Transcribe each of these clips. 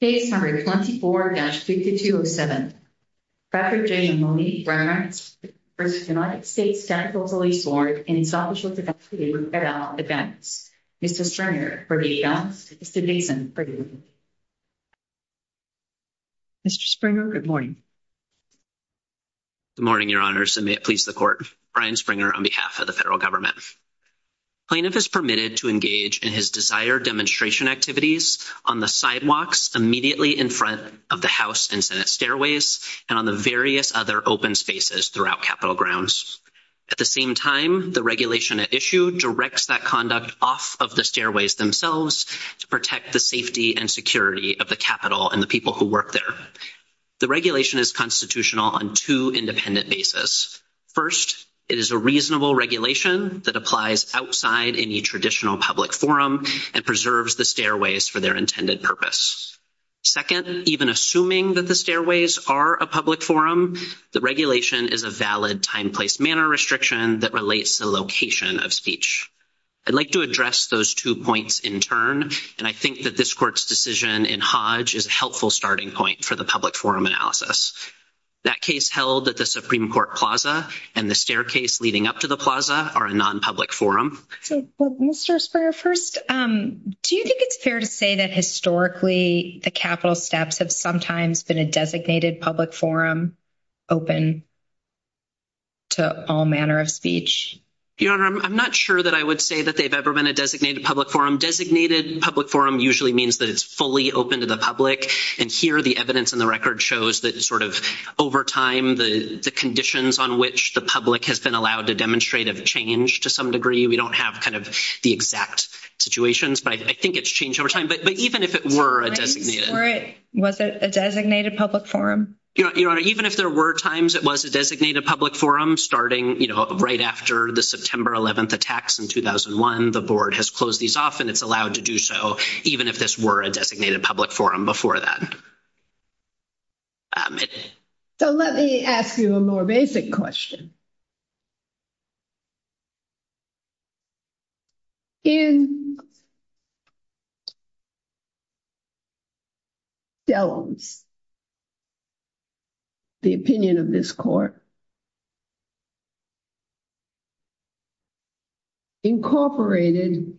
Page number 24-6207, Dr. Jay and Monique Bernhardt v. United States Capitol Police Board in establishment of the Fiscal Year with FedEx event. Mr. Springer, Verdeja, Mr. Dixon, for you. Mr. Springer, good morning. Good morning, Your Honors, and may it please the Court, Brian Springer on behalf of the federal government. Plaintiff is permitted to engage in his desired demonstration activities on the sidewalks immediately in front of the House and Senate stairways and on the various other open spaces throughout Capitol grounds. At the same time, the regulation at issue directs that conduct off of the stairways themselves to protect the safety and security of the Capitol and the people who work there. The regulation is constitutional on two independent basis. First, it is a reasonable regulation that applies outside any traditional public forum and preserves the stairways for their intended purpose. Second, even assuming that the stairways are a public forum, the regulation is a valid time-place-manner restriction that relates the location of speech. I'd like to address those two points in turn, and I think that this Court's decision in Hodge is a helpful starting point for the public forum analysis. That case held at the Supreme Court plaza and the staircase leading up to the plaza are a non-public forum. Well, Mr. Springer, first, do you think it's fair to say that historically the Capitol steps have sometimes been a designated public forum open to all manner of speech? Your Honor, I'm not sure that I would say that they've ever been a designated public forum. Designated public forum usually means that it's fully open to the public, and here the evidence in the record shows that sort of over time, the conditions on which the public has been allowed to demonstrate have changed to some degree. We don't have kind of the exact situations, but I think it's changed over time. But even if it were a designated... Was it a designated public forum? Your Honor, even if there were times it was a designated public forum, starting, you know, right after the September 11th attacks in 2001, the Board has closed these off and it's not allowed to do so, even if this were a designated public forum before that. So, let me ask you a more basic question. In Dellums, the opinion of this court incorporated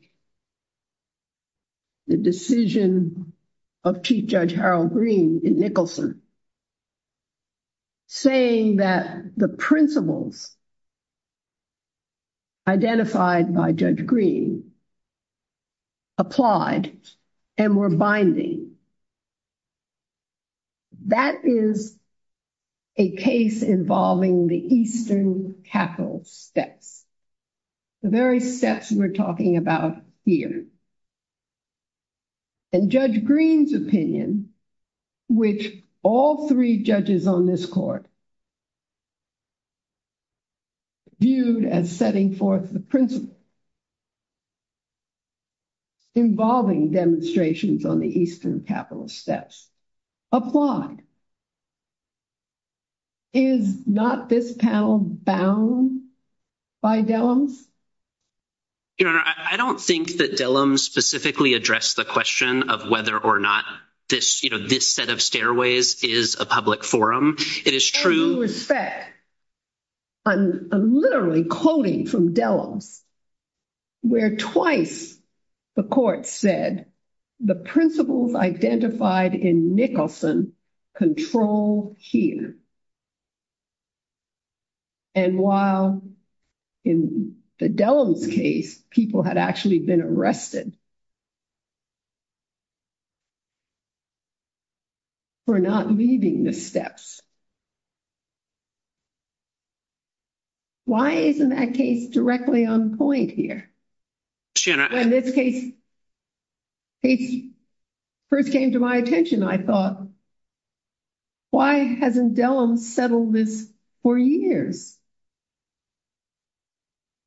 the decision of Chief Judge Harold Green in Wilson, saying that the principles identified by Judge Green applied and were binding. That is a case involving the Eastern Capitol steps, the very steps we're talking about here. And Judge Green's opinion, which all three judges on this court viewed as setting forth the principles involving demonstrations on the Eastern Capitol steps, applied. Is not this panel bound by Dellums? Your Honor, I don't think that Dellums specifically addressed the question of whether or not this, you know, this set of stairways is a public forum. It is true... Any respect, I'm literally quoting from Dellums, where twice the court said the principles identified in Nicholson control here. And while in the Dellums case, people had actually been arrested for not leaving the steps. Why isn't that case directly on point here? Your Honor... When this case first came to my attention, I thought, why hasn't Dellums settled this for years?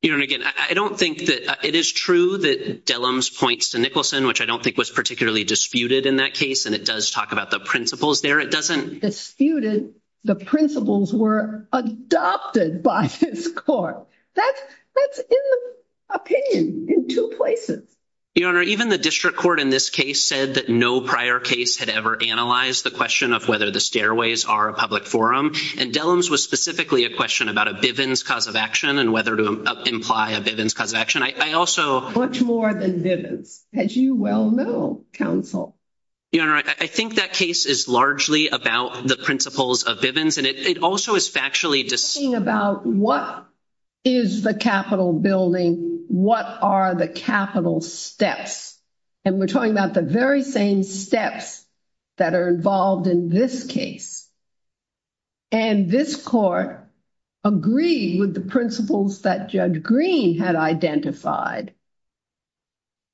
Your Honor, again, I don't think that... It is true that Dellums points to Nicholson, which I don't think was particularly disputed in that case. And it does talk about the principles there. It doesn't... Disputed? The principles were adopted by this court. That's in the opinion in two places. Your Honor, even the district court in this case said that no prior case had ever analyzed the question of whether the stairways are a public forum. And Dellums was specifically a question about a Bivens cause of action and whether to imply a Bivens cause of action. I also... Much more than Bivens, as you well know, counsel. Your Honor, I think that case is largely about the principles of Bivens. And it also is factually disputing about what is the capital building, what are the capital steps. And we're talking about the very same steps that are involved in this case. And this court agreed with the principles that Judge Green had identified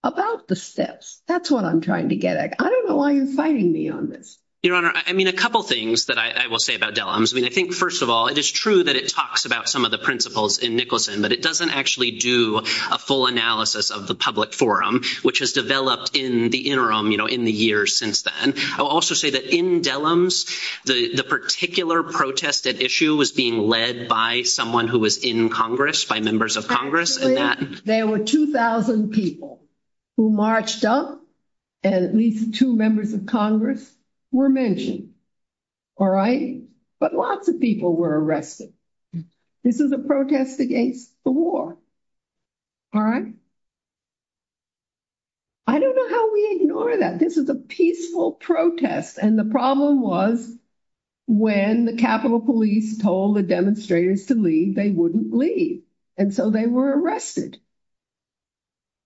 about the That's what I'm trying to get at. I don't know why you're fighting me on this. Your Honor, I mean, a couple things that I will say about Dellums. I mean, I think, first of all, it is true that it talks about some of the principles in Nicholson, but it doesn't actually do a full analysis of the public forum, which has developed in the interim, you know, in the years since then. I will also say that in Dellums, the particular protested issue was being led by someone who was in Congress, by members of Congress. And that... There were 2,000 people who marched up and at least two members of Congress were mentioned. All right? But lots of people were arrested. This is a protest against the war. All right? I don't know how we ignore that. This is a peaceful protest. And the problem was when the Capitol Police told the demonstrators to leave, they wouldn't leave. And so they were arrested.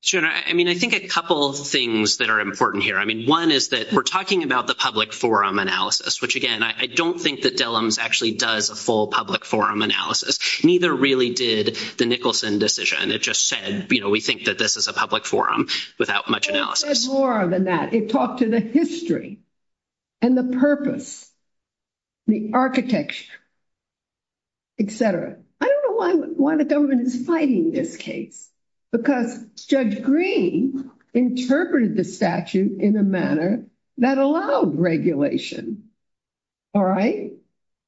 Your Honor, I mean, I think a couple of things that are important here. I mean, one is that we're talking about the public forum analysis, which, again, I don't think that Dellums actually does a full public forum analysis. Neither really did the Nicholson decision. It just said, you know, we think that this is a public forum without much analysis. It said more than that. It talked to the history and the purpose, the architecture, et cetera. I don't know why the government is citing this case because Judge Green interpreted the statute in a manner that allowed regulation. All right?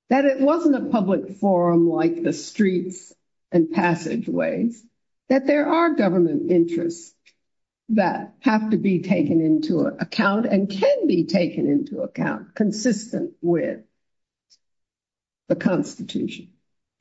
That it wasn't a public forum like the streets and passageways. That there are government interests that have to be taken into account and can be taken into account consistent with the Constitution.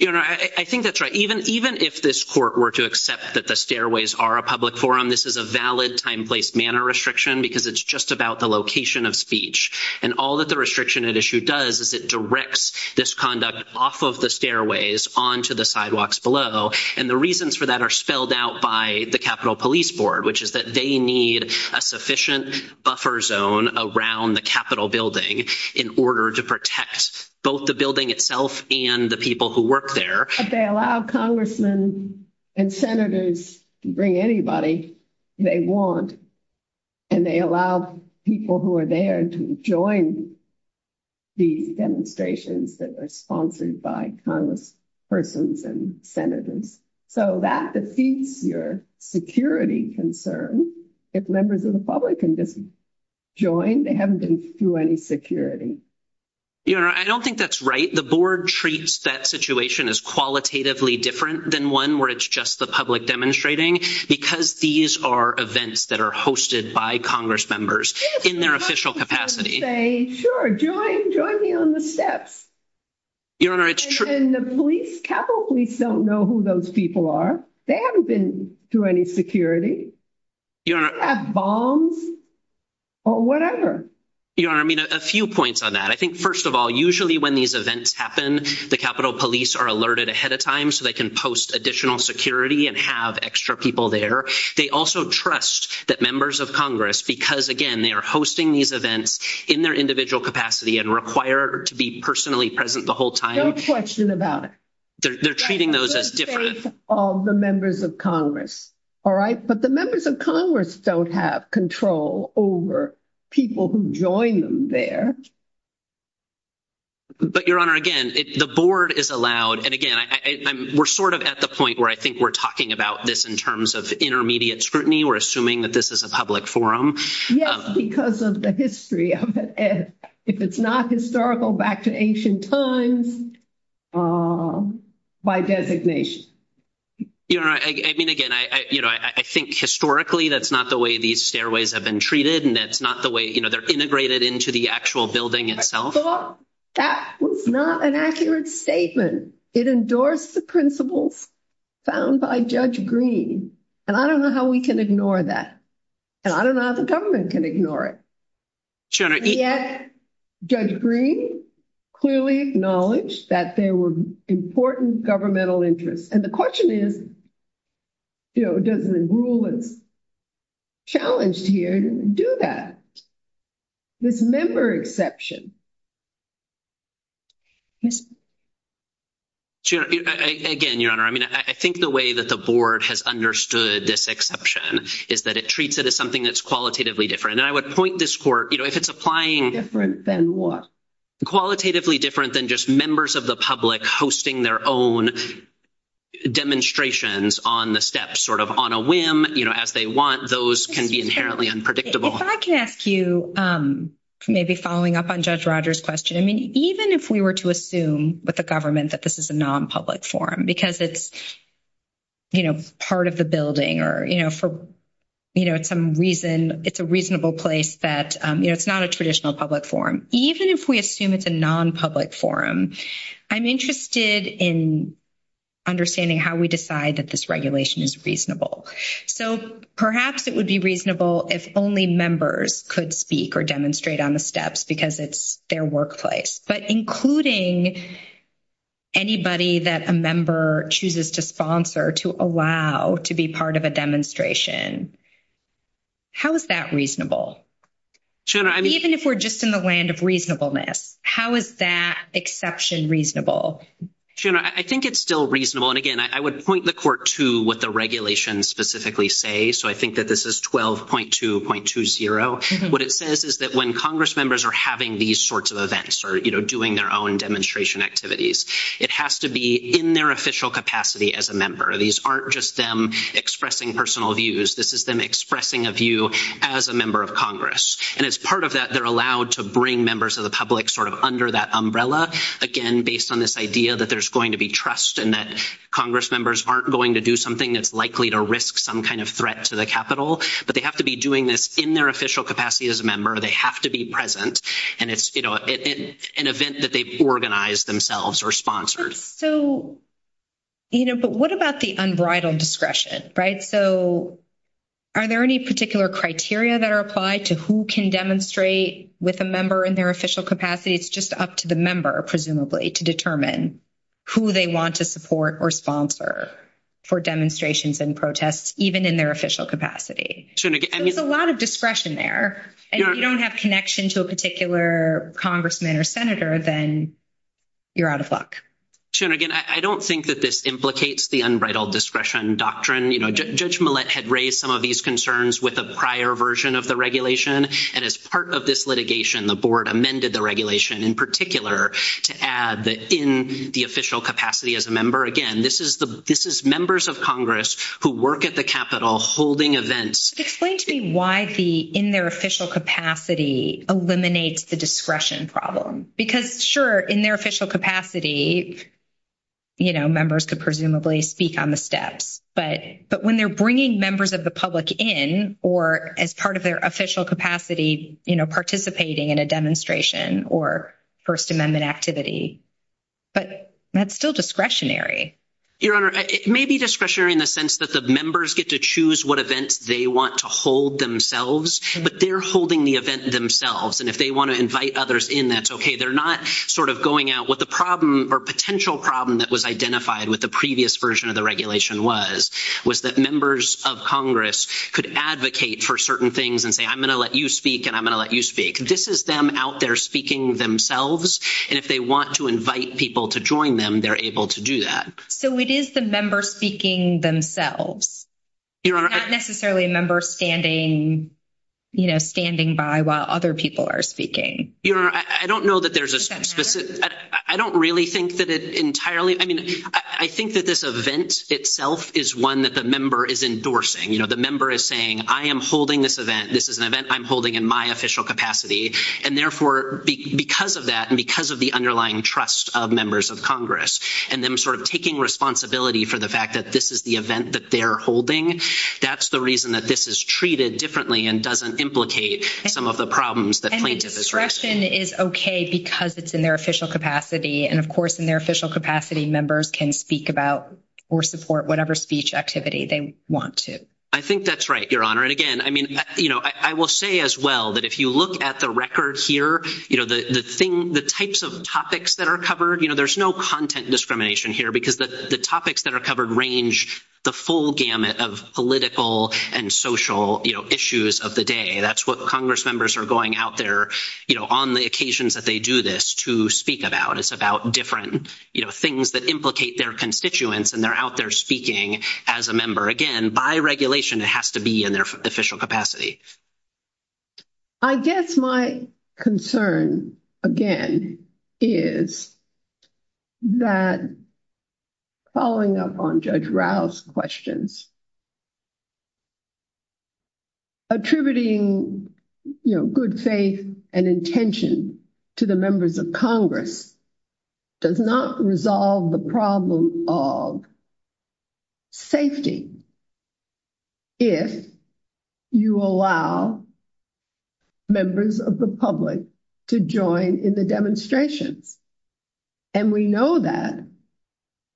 Your Honor, I think that's right. Even if this court were to accept that the stairways are a public forum, this is a valid time, place, manner restriction because it's just about the location of speech. And all that the restriction at issue does is it directs this conduct off of the stairways onto the sidewalks below. And the reasons for that are spelled out by the Capitol Police Board, which is that they need a sufficient buffer zone around the Capitol building in order to protect both the building itself and the people who work there. But they allow congressmen and senators to bring anybody they want and they allow people who are there to join the demonstrations that are sponsored by congresspersons and senators. So that defeats your security concerns. If members of the public can just join, they haven't been through any security. Your Honor, I don't think that's right. I think the board treats that situation as qualitatively different than one where it's just the public demonstrating because these are events that are hosted by congressmembers in their official capacity. Sure, join me on the steps. Your Honor, it's true. And the police, Capitol Police don't know who those people are. They haven't been through any security. Your Honor. They have bombs or whatever. Your Honor, I mean, a few points on that. I think first of all, usually when these events happen, the Capitol Police are alerted ahead of time so they can post additional security and have extra people there. They also trust that members of Congress, because again, they are hosting these events in their individual capacity and require to be personally present the whole time. Don't question about it. They're treating those as different. All the members of Congress, all right? But the members of Congress don't have control over people who join them there. But Your Honor, again, the board is allowed. And again, we're sort of at the point where I think we're talking about this in terms of intermediate scrutiny. We're assuming that this is a public forum. Yes, because of the history. If it's not historical, back to ancient times, by designation. Your Honor, I mean, again, you know, I think historically that's not the way these stairways have been treated and that's not the way, you know, they're integrated into the actual building itself. I thought that was not an accurate statement. It endorsed the principles found by Judge Green. And I don't know how we can ignore that. And I don't know how the government can ignore it. Your Honor. And yet, Judge Green clearly acknowledged that there were important governmental interests. And the question is, you know, does the rule that's challenged here do that? This member exception. Again, Your Honor, I mean, I think the way that the board has understood this exception is that it treats it as something that's qualitatively different. And I would point this for, you know, if it's applying... Different than what? Qualitatively different than just members of the public hosting their own demonstrations on the steps, sort of on a whim, you know, as they want. Those can be inherently unpredictable. If I can ask you, maybe following up on Judge Rogers' question, I mean, even if we were to assume with the government that this is a non-public forum because it's, you know, part of the building or, you know, for, you know, some reason, it's a reasonable place that, you know, it's not a traditional public forum. Even if we assume it's a non-public forum, I'm interested in understanding how we decide that this regulation is reasonable. So perhaps it would be reasonable if only members could speak or demonstrate on the steps because it's their workplace. But including anybody that a member chooses to sponsor to allow to be part of a demonstration, how is that reasonable? Even if we're just in the land of reasonableness, how is that exception reasonable? General, I think it's still reasonable. And again, I would point the court to what the regulations specifically say. So I think that this is 12.2.20. What it says is that when Congress members are having these sorts of events or, you know, doing their own demonstration activities, it has to be in their official capacity as a member. These aren't just them expressing personal views. This is them expressing a view as a member of Congress. And as part of that, they're allowed to bring members of the public sort of under that umbrella. Again, based on this idea that there's going to be trust and that Congress members aren't going to do something that's likely to risk some kind of threat to the Capitol. But they have to be doing this in their official capacity as a member. They have to be present. And it's, you know, an event that they've organized themselves or sponsored. So, you know, but what about the unbridled discretion, right? So are there any particular criteria that are applied to who can demonstrate with a member in their official capacity? It's just up to the member, presumably, to determine who they want to support or sponsor for demonstrations and protests, even in their official capacity. So there's a lot of discretion there. And if you don't have connection to a particular congressman or senator, then you're out of luck. Soon again, I don't think that this implicates the unbridled discretion doctrine. You know, Judge Millett had raised some of these concerns with a prior version of the regulation. And as part of this litigation, the board amended the regulation in particular to add that in the official capacity as a member. Again, this is members of Congress who work at the Capitol holding events. Explain to me why the in their official capacity eliminates the discretion problem. Because, sure, in their official capacity, you know, members could presumably speak on the steps. But when they're bringing members of the public in or as part of their official capacity, you know, participating in a demonstration or First Amendment activity. But that's still discretionary. Your Honor, it may be discretionary in the sense that the members get to choose what events they want to hold themselves, but they're holding the event themselves. And if they want to invite others in, that's okay. They're not sort of going out with a problem or potential problem that was identified with the previous version of the regulation was, was that members of Congress could advocate for certain things and say, I'm going to let you speak and I'm going to let you speak. This is them out there speaking themselves. And if they want to invite people to join them, they're able to do that. So it is the members speaking themselves. Your Honor. Not necessarily a member standing, you know, standing by while other people are speaking. Your Honor, I don't know that there's a specific. I don't really think that it entirely. I mean, I think that this event itself is one that the member is endorsing. You know, the member is saying, I am holding this event. This is an event I'm holding in my official capacity. And therefore, because of that and because of the underlying trust of members of Congress and them sort of taking responsibility for the fact that this is the event that they're holding, that's the reason that this is treated differently and doesn't implicate some of the problems that plaintiff has raised. And discretion is okay because it's in their official capacity. And of course, in their official capacity, members can speak about or support whatever speech activity they want to. I think that's right, Your Honor. And again, I mean, you know, I will say as well that if you look at the record here, you know, the thing, the types of topics that are covered, you know, there's no content discrimination here because the topics that are covered range the full gamut of political and social, you know, issues of the day. That's what Congress members are going out there, you know, on the occasions that they do this to speak about. It's about different, you know, things that implicate their constituents and they're out there speaking as a member. Again, by regulation, it has to be in their official capacity. I guess my concern, again, is that following up on Judge Rao's questions, attributing, you know, good faith and intention to the members of Congress does not resolve the problem of safety if you allow members of the public to join in the demonstration. And we know that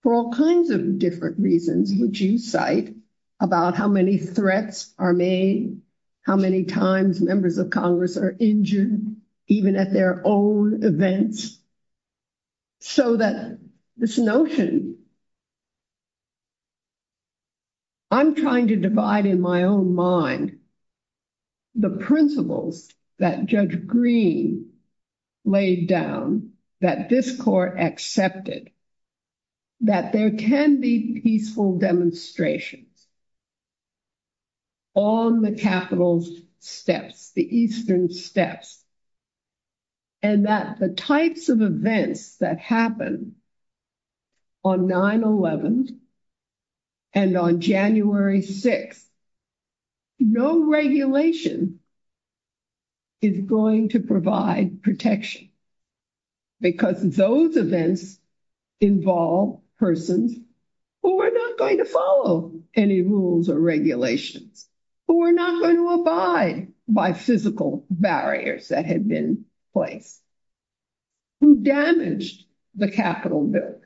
for all kinds of different reasons, which you cite about how many threats are made, how many times members of Congress are injured, even at their own events. So that this notion, I'm trying to divide in my own mind the principles that Judge Green laid down that this court accepted, that there can be peaceful demonstration on the Capitol's steps, the eastern steps, and that the types of events that happen on 9-11 and on January 6th, no regulation is going to provide protection because those events involve persons who are not going to follow any rules or regulations, who are not going to abide by physical barriers that have been placed, who damaged the Capitol building.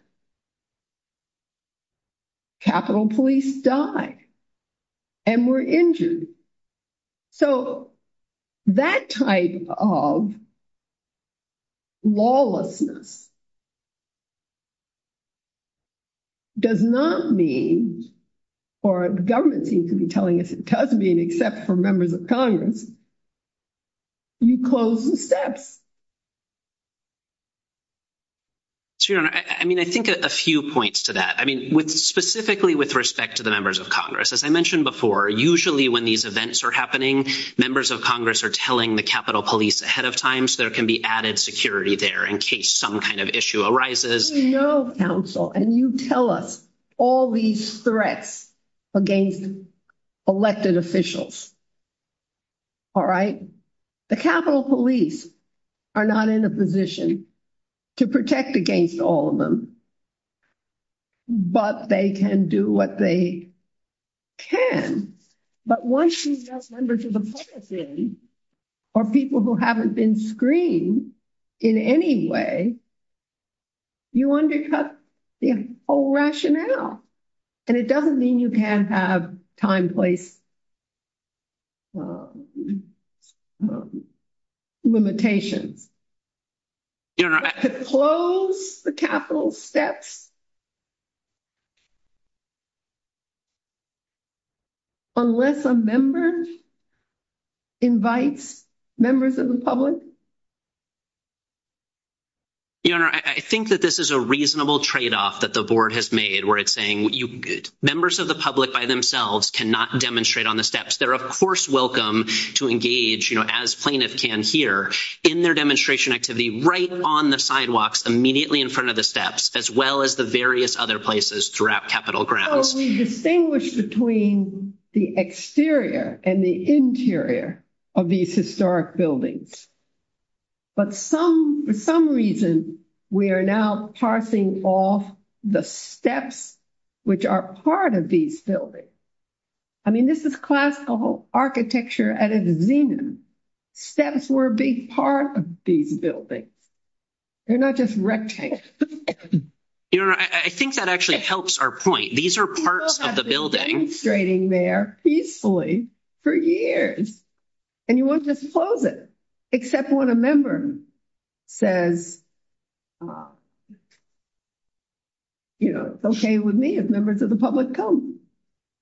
Capitol police die and were injured. So that type of lawlessness does not mean, or the government seems to be telling us it does mean, except for members of Congress, you close the steps. So, Your Honor, I mean, I think a few points to that. I mean, specifically with respect to the members of Congress, as I mentioned before, usually when these events are happening, members of Congress are telling the Capitol police ahead of time so there can be added security there in case some kind of issue arises. This is your counsel and you tell us all these threats against elected officials. All right? The Capitol police are not in a position to protect against all of them, but they can do what they can. But once you address members of the public or people who haven't been screened in any way, you undercut the whole rationale. And it doesn't mean you can't have time, place, limitation. Your Honor, I... To close the Capitol steps unless a member invites members of the public. Your Honor, I think that this is a reasonable tradeoff that the board has made where it's saying members of the public by themselves cannot demonstrate on the steps. They're, of course, welcome to engage, you know, as plaintiffs can here in their demonstration activity right on the sidewalks, immediately in front of the steps, as well as the various other places throughout Capitol grounds. So we distinguish between the exterior and the interior of these historic buildings. But for some reason, we are now passing off the steps which are part of these buildings. I mean, this is classical architecture at its zenith. Steps were a big part of these buildings. They're not just rec tanks. Your Honor, I think that actually helps our point. These are parts of the building. People have been demonstrating there peacefully for years. And you won't disclose it except when a member says, you know, it's okay with me if members of the public come.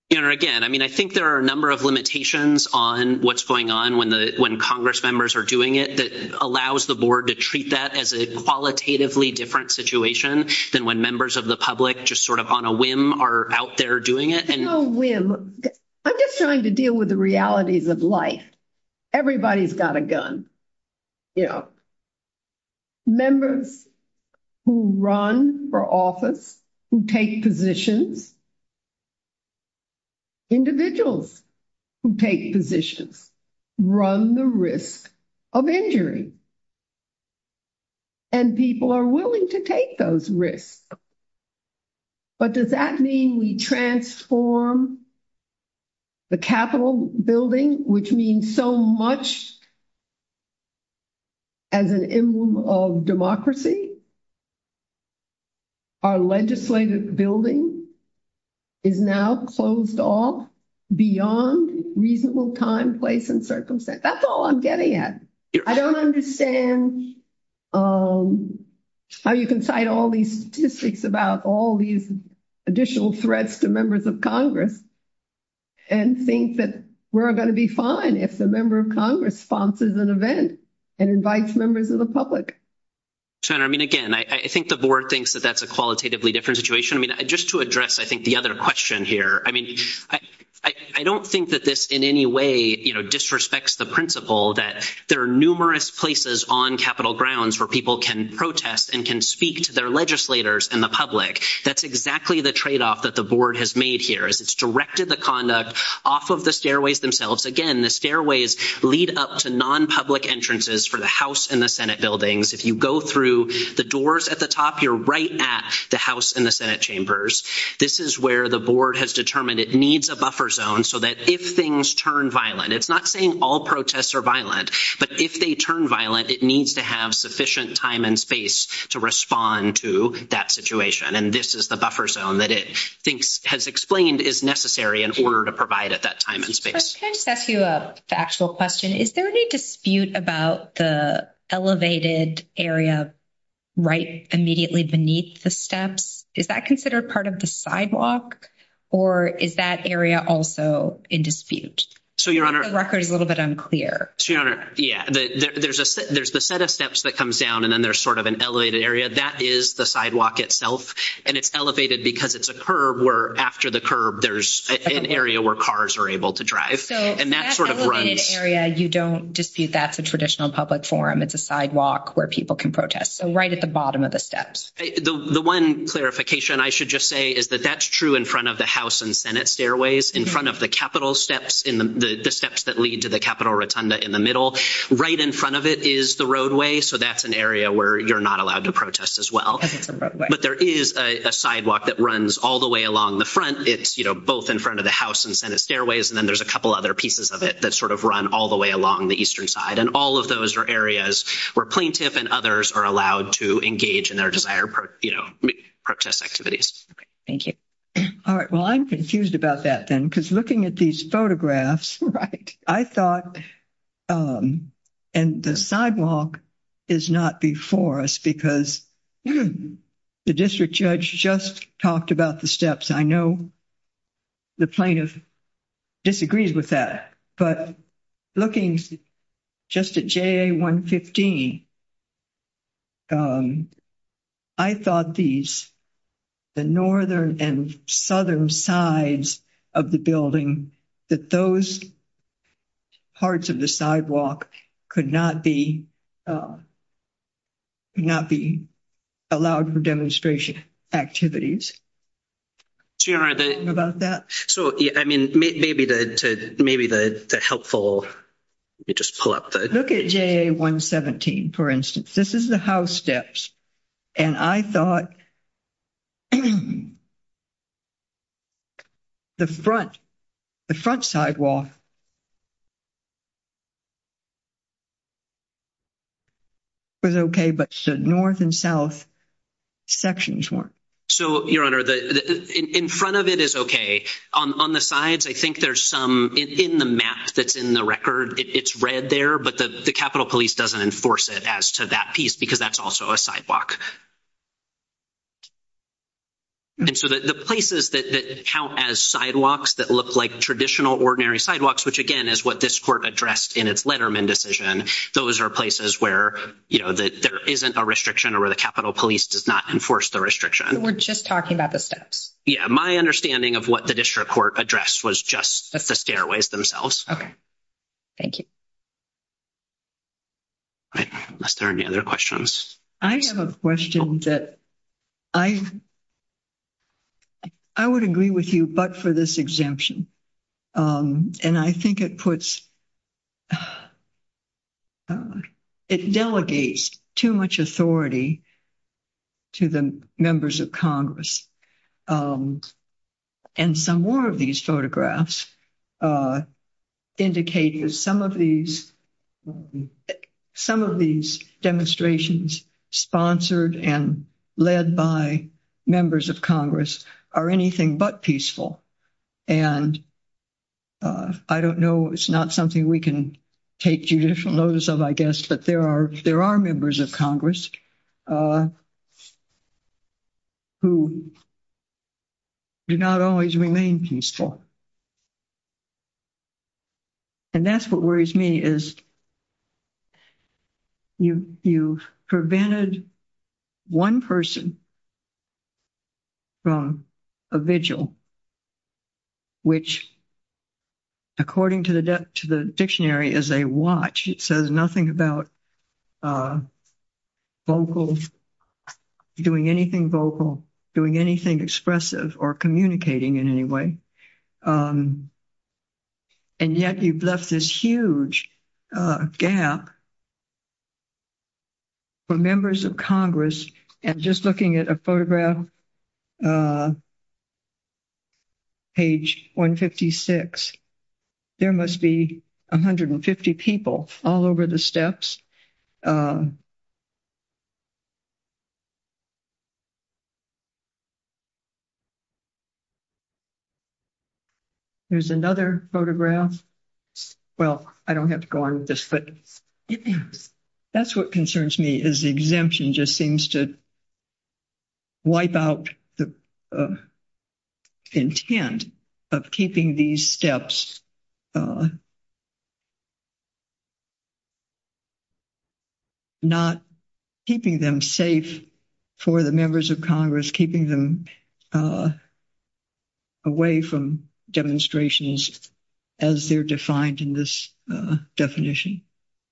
Your Honor, again, I mean, I think there are a number of limitations on what's going on when Congress members are doing it that allows the board to treat that as a qualitatively different situation than when members of the public just sort of on a whim are out there doing it. It's not a whim. I'm just trying to deal with the realities of life. Everybody's got a gun, you know. Members who run for office, who take positions, individuals who take positions, run the risk of injury. And people are willing to take those risks. But does that mean we transform the Capitol Building, which means so much as an emblem of democracy? Our legislative building is now closed off beyond reasonable time, place, and circumstance. That's all I'm getting at. I don't understand how you can cite all these statistics about all these additional threats to members of Congress and think that we're going to be fine if a member of Congress sponsors an event and invites members of the public. Senator, I mean, again, I think the board thinks that that's a qualitatively different situation. I mean, just to address, I think, the other question here, I mean, I don't think that this in any way, you know, disrespects the principle that there are numerous places on Capitol grounds where people can protest and can speak to their legislators and the public. That's exactly the tradeoff that the board has made here. It's directed the conduct off of the stairways themselves. Again, the stairways lead up to non-public entrances for the House and the Senate buildings. If you go through the doors at the top, you're right at the House and the Senate chambers. This is where the board has determined it needs a buffer zone so that if things turn violent, it's not saying all protests are violent, but if they turn violent, it needs to have sufficient time and space to respond to that situation. And this is the buffer zone that it thinks has explained is necessary in order to provide it that time and space. Can I ask you a factual question? Is there any dispute about the elevated area right immediately beneath the steps? Is that considered part of the sidewalk, or is that area also in dispute? The record is a little bit unclear. Your Honor, yeah. There's the set of steps that comes down, and then there's sort of an elevated area. That is the sidewalk itself, and it's elevated because it's a curb where after the curb, there's an area where cars are able to drive, and that sort of runs. So that elevated area, you don't dispute that's a traditional public forum. It's a sidewalk where people can protest. So right at the bottom of the steps. The one clarification I should just say is that that's true in front of the House and Senate stairways. In front of the Capitol steps, the steps that lead to the Capitol Rotunda in the middle, right in front of it is the roadway. So that's an area where you're not allowed to protest as well. But there is a sidewalk that runs all the way along the front. It's both in front of the House and Senate stairways, and then there's a couple other pieces of it that sort of run all the way along the eastern side. And all of those are areas where plaintiff and others are allowed to engage in their desired, you know, protest activities. Thank you. All right. Well, I'm confused about that then because looking at these photographs, right, I thought and the sidewalk is not before us because the district judge just talked about the steps. I know the plaintiff disagrees with that. But looking just at JA 115, I thought these, the northern and southern sides of the building, that those parts of the sidewalk could not be allowed for demonstration activities. Do you know about that? So, yeah, I mean, maybe the helpful, you just pull up the... Look at JA 117, for instance. This is the House steps. And I thought the front, the front sidewalk was okay, but the north and south sections weren't. So, Your Honor, in front of it is okay. On the sides, I think there's some, in the map that's in the record, it's read there, but the Capitol Police doesn't enforce it as to that piece because that's also a sidewalk. And so the places that count as sidewalks that look like traditional ordinary sidewalks, which again is what this court addressed in its Letterman decision, those are places where, you know, there isn't a restriction or where the Capitol Police does not enforce the restriction. We're just talking about the steps. Yeah, my understanding of what the district court addressed was just the stairways themselves. Okay. Thank you. All right. Are there any other questions? I have a question that I would agree with you, but for this exemption. And I think it puts... It delegates too much authority to the members of Congress. And some more of these photographs indicate that some of these demonstrations sponsored and led by members of Congress are anything but peaceful. And I don't know, it's not something we can take judicial notice of, I guess, but there are members of Congress who do not always remain peaceful. And that's what worries me is you prevented one person from a vigil, which according to the dictionary is a watch. It says nothing about vocals, doing anything vocal, doing anything expressive or communicating in any way. And yet you've left this huge gap for members of Congress. And just looking at a photograph, page 156, there must be 150 people all over the steps. There's another photograph. Well, I don't have to go on with this, but that's what concerns me is the exemption just seems to wipe out the intent of keeping these steps, not keeping them safe for the members of Congress, keeping them away from demonstrations as they're defined in this definition.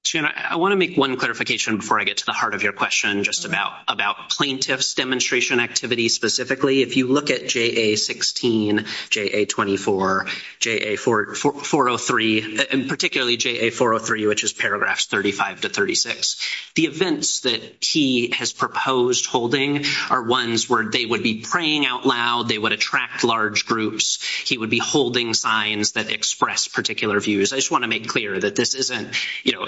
Jim, I want to make one clarification before I get to the heart of your question just about plaintiff's demonstration activity specifically. If you look at JA-16, JA-24, JA-403, and particularly JA-403, which is paragraphs 35 to 36, the events that he has proposed holding are ones where they would be praying out loud, they would attract large groups, he would be holding signs that express particular views. I just want to make clear that this isn't, you know,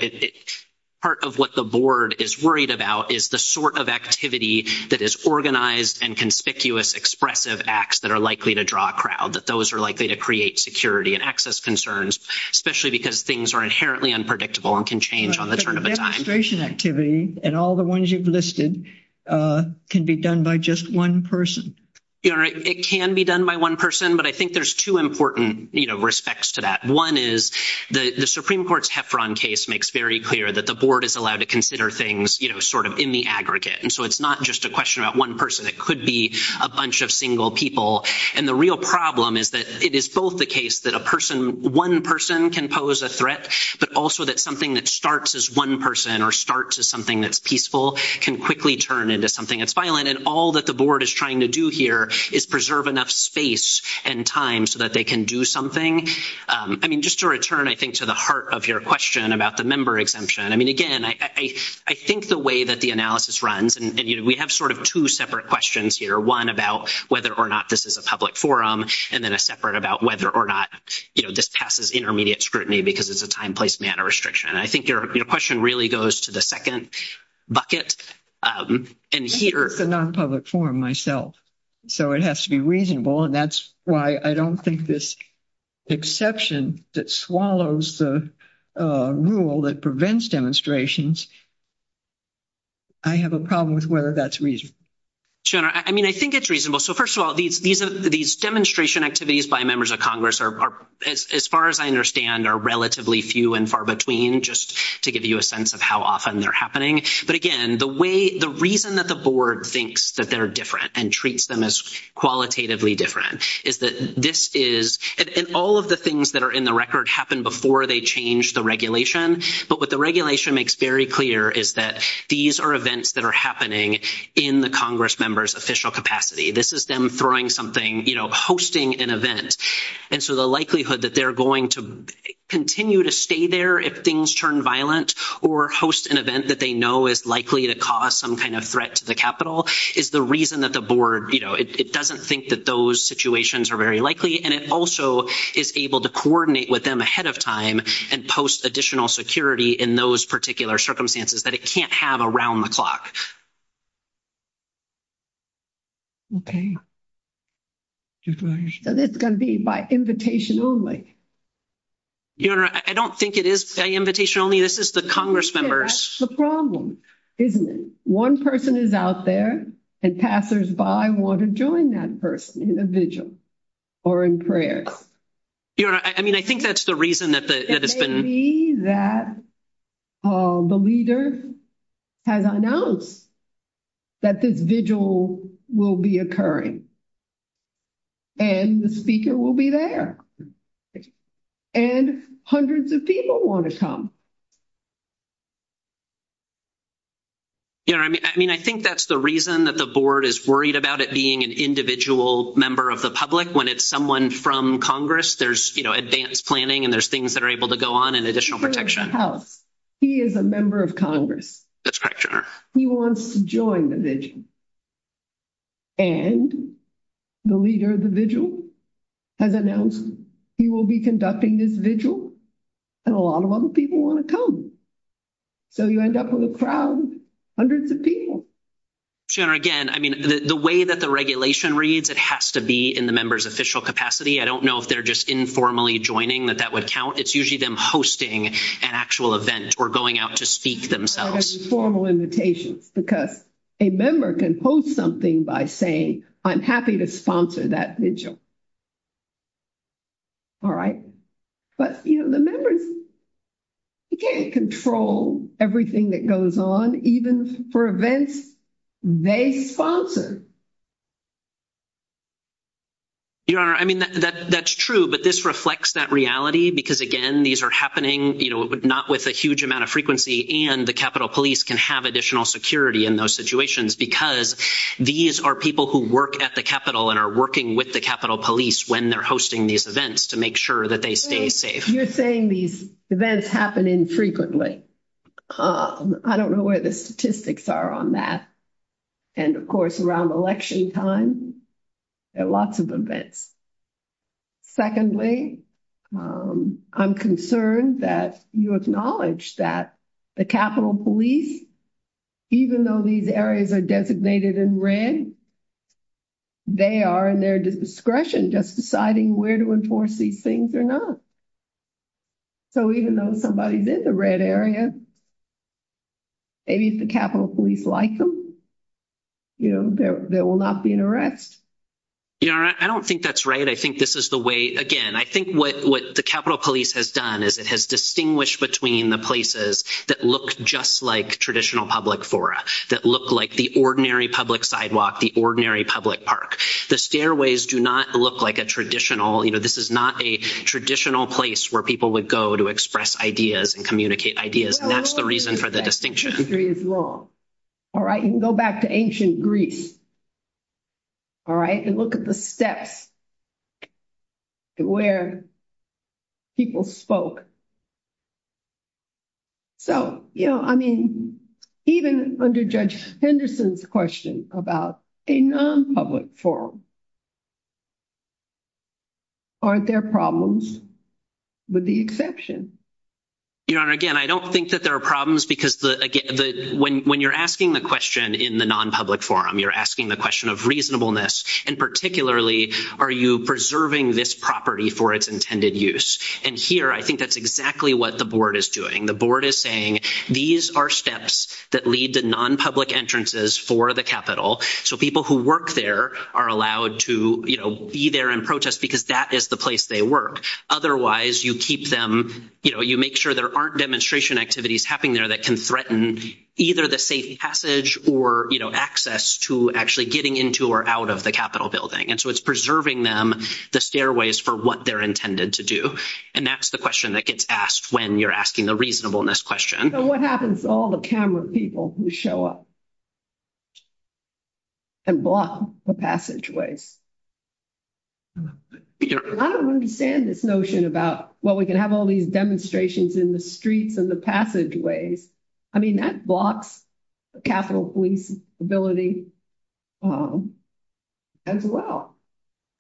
part of what the board is worried about is the sort of activity that is organized and conspicuous expressive acts that are likely to draw a crowd, that those are likely to create security and access concerns, especially because things are inherently unpredictable and can change on the turn of the time. But the demonstration activity and all the ones you've listed can be done by just one person. It can be done by one person, but I think there's two important, you know, respects to that. One is the Supreme Court's Heffron case makes very clear that the board is allowed to consider things, you know, sort of in the aggregate. And so it's not just a question about one person. It could be a bunch of single people. And the real problem is that it is both the case that a person, one person can pose a threat, but also that something that starts as one person or starts as something that's peaceful can quickly turn into something that's violent. And all that the board is trying to do here is preserve enough space and time so that they can do something. I mean, just to return, I think, to the heart of your question about the member exemption. I mean, again, I think the way that the analysis runs, and, you know, we have sort of two separate questions here. One about whether or not this is a public forum, and then a separate about whether or not, you know, this passes intermediate scrutiny because it's a time, place, manner restriction. I think your question really goes to the second bucket. And here... I work in non-public forum myself. So it has to be reasonable, and that's why I don't think this exception that swallows the rule that prevents demonstrations, I have a problem with whether that's reasonable. I mean, I think it's reasonable. So first of all, these demonstration activities by members of Congress are, as far as I understand, are relatively few and far between, just to give you a sense of how often they're happening. But again, the reason that the board thinks that they're different and treats them as qualitatively different is that this is... And all of the things that are in the record happen before they change the regulation. But what the regulation makes very clear is that these are events that are happening in the Congress member's official capacity. This is them throwing something, you know, hosting an event. And so the likelihood that they're going to continue to stay there if things turn violent or host an event that they know is likely to cause some kind of threat to the Capitol is the reason that the board, you know, it doesn't think that those situations are very likely. And it also is able to coordinate with them ahead of time and post additional security in those particular circumstances that it can't have around the clock. Okay. And it's going to be by invitation only. Your Honor, I don't think it is by invitation only. I mean, this is the Congress members. That's the problem, isn't it? One person is out there and passersby want to join that person in a vigil or in prayer. Your Honor, I mean, I think that's the reason that it's been... It may be that the leader has announced that this vigil will be occurring. And the speaker will be there. And hundreds of people want to come. Your Honor, I mean, I think that's the reason that the board is worried about it being an individual member of the public. When it's someone from Congress, there's, you know, advanced planning and there's things that are able to go on and additional protection. He is a member of Congress. That's correct, Your Honor. He wants to join the vigil. And the leader of the vigil has announced he will be conducting this vigil and a lot of other people want to come. So you end up with a crowd, hundreds of people. Your Honor, again, I mean, the way that the regulation reads, it has to be in the member's official capacity. I don't know if they're just informally joining, that that would count. It's usually them hosting an actual event or going out to speak themselves. It's not a formal invitation because a member can post something by saying, I'm happy to sponsor that vigil. All right? But, you know, the members can't control everything that goes on, even for events they sponsor. Your Honor, I mean, that's true, but this reflects that reality because, again, these are happening, you know, not with a huge amount of frequency and the Capitol Police can have additional security in those situations because these are people who work at the Capitol and are working with the Capitol Police when they're hosting these events to make sure that they stay safe. You're saying these events happen infrequently. I don't know where the statistics are on that. And, of course, around election time, there are lots of events. Secondly, I'm concerned that you acknowledged that the Capitol Police, even though these areas are designated in red, they are in their discretion just deciding where to enforce these things or not. So even though somebody is in the red area, maybe if the Capitol Police like them, you know, there will not be an arrest. Your Honor, I don't think that's right. I think this is the way, again, I think what the Capitol Police has done is it has distinguished between the places that look just like traditional public fora, that look like the ordinary public sidewalk, the ordinary public park. The stairways do not look like a traditional, you know, this is not a traditional place where people would go to express ideas and communicate ideas, and that's the reason for the distinction. History is wrong, all right? You can go back to ancient Greece, all right? And look at the steps where people spoke. So, you know, I mean, even under Judge Henderson's question about a non-public forum, aren't there problems with the exception? Your Honor, again, I don't think that there are problems because when you're asking the question in the non-public forum, you're asking the question of reasonableness, and particularly are you preserving this property for its intended use? And here, I think that's exactly what the board is doing. The board is saying these are steps that lead to non-public entrances for the Capitol, so people who work there are allowed to, you know, be there in protest because that is the place they work. Otherwise, you keep them, you know, you make sure there aren't demonstration activities happening there that can threaten either the safe passage or, you know, access to actually getting into or out of the Capitol building. And so it's preserving them the stairways for what they're intended to do. And that's the question that gets asked when you're asking the reasonableness question. So what happens to all the camera people who show up and block the passageways? I don't understand this notion about, well, we can have all these demonstrations in the streets and the passageways. I mean, that blocks Capitol Police's ability as well.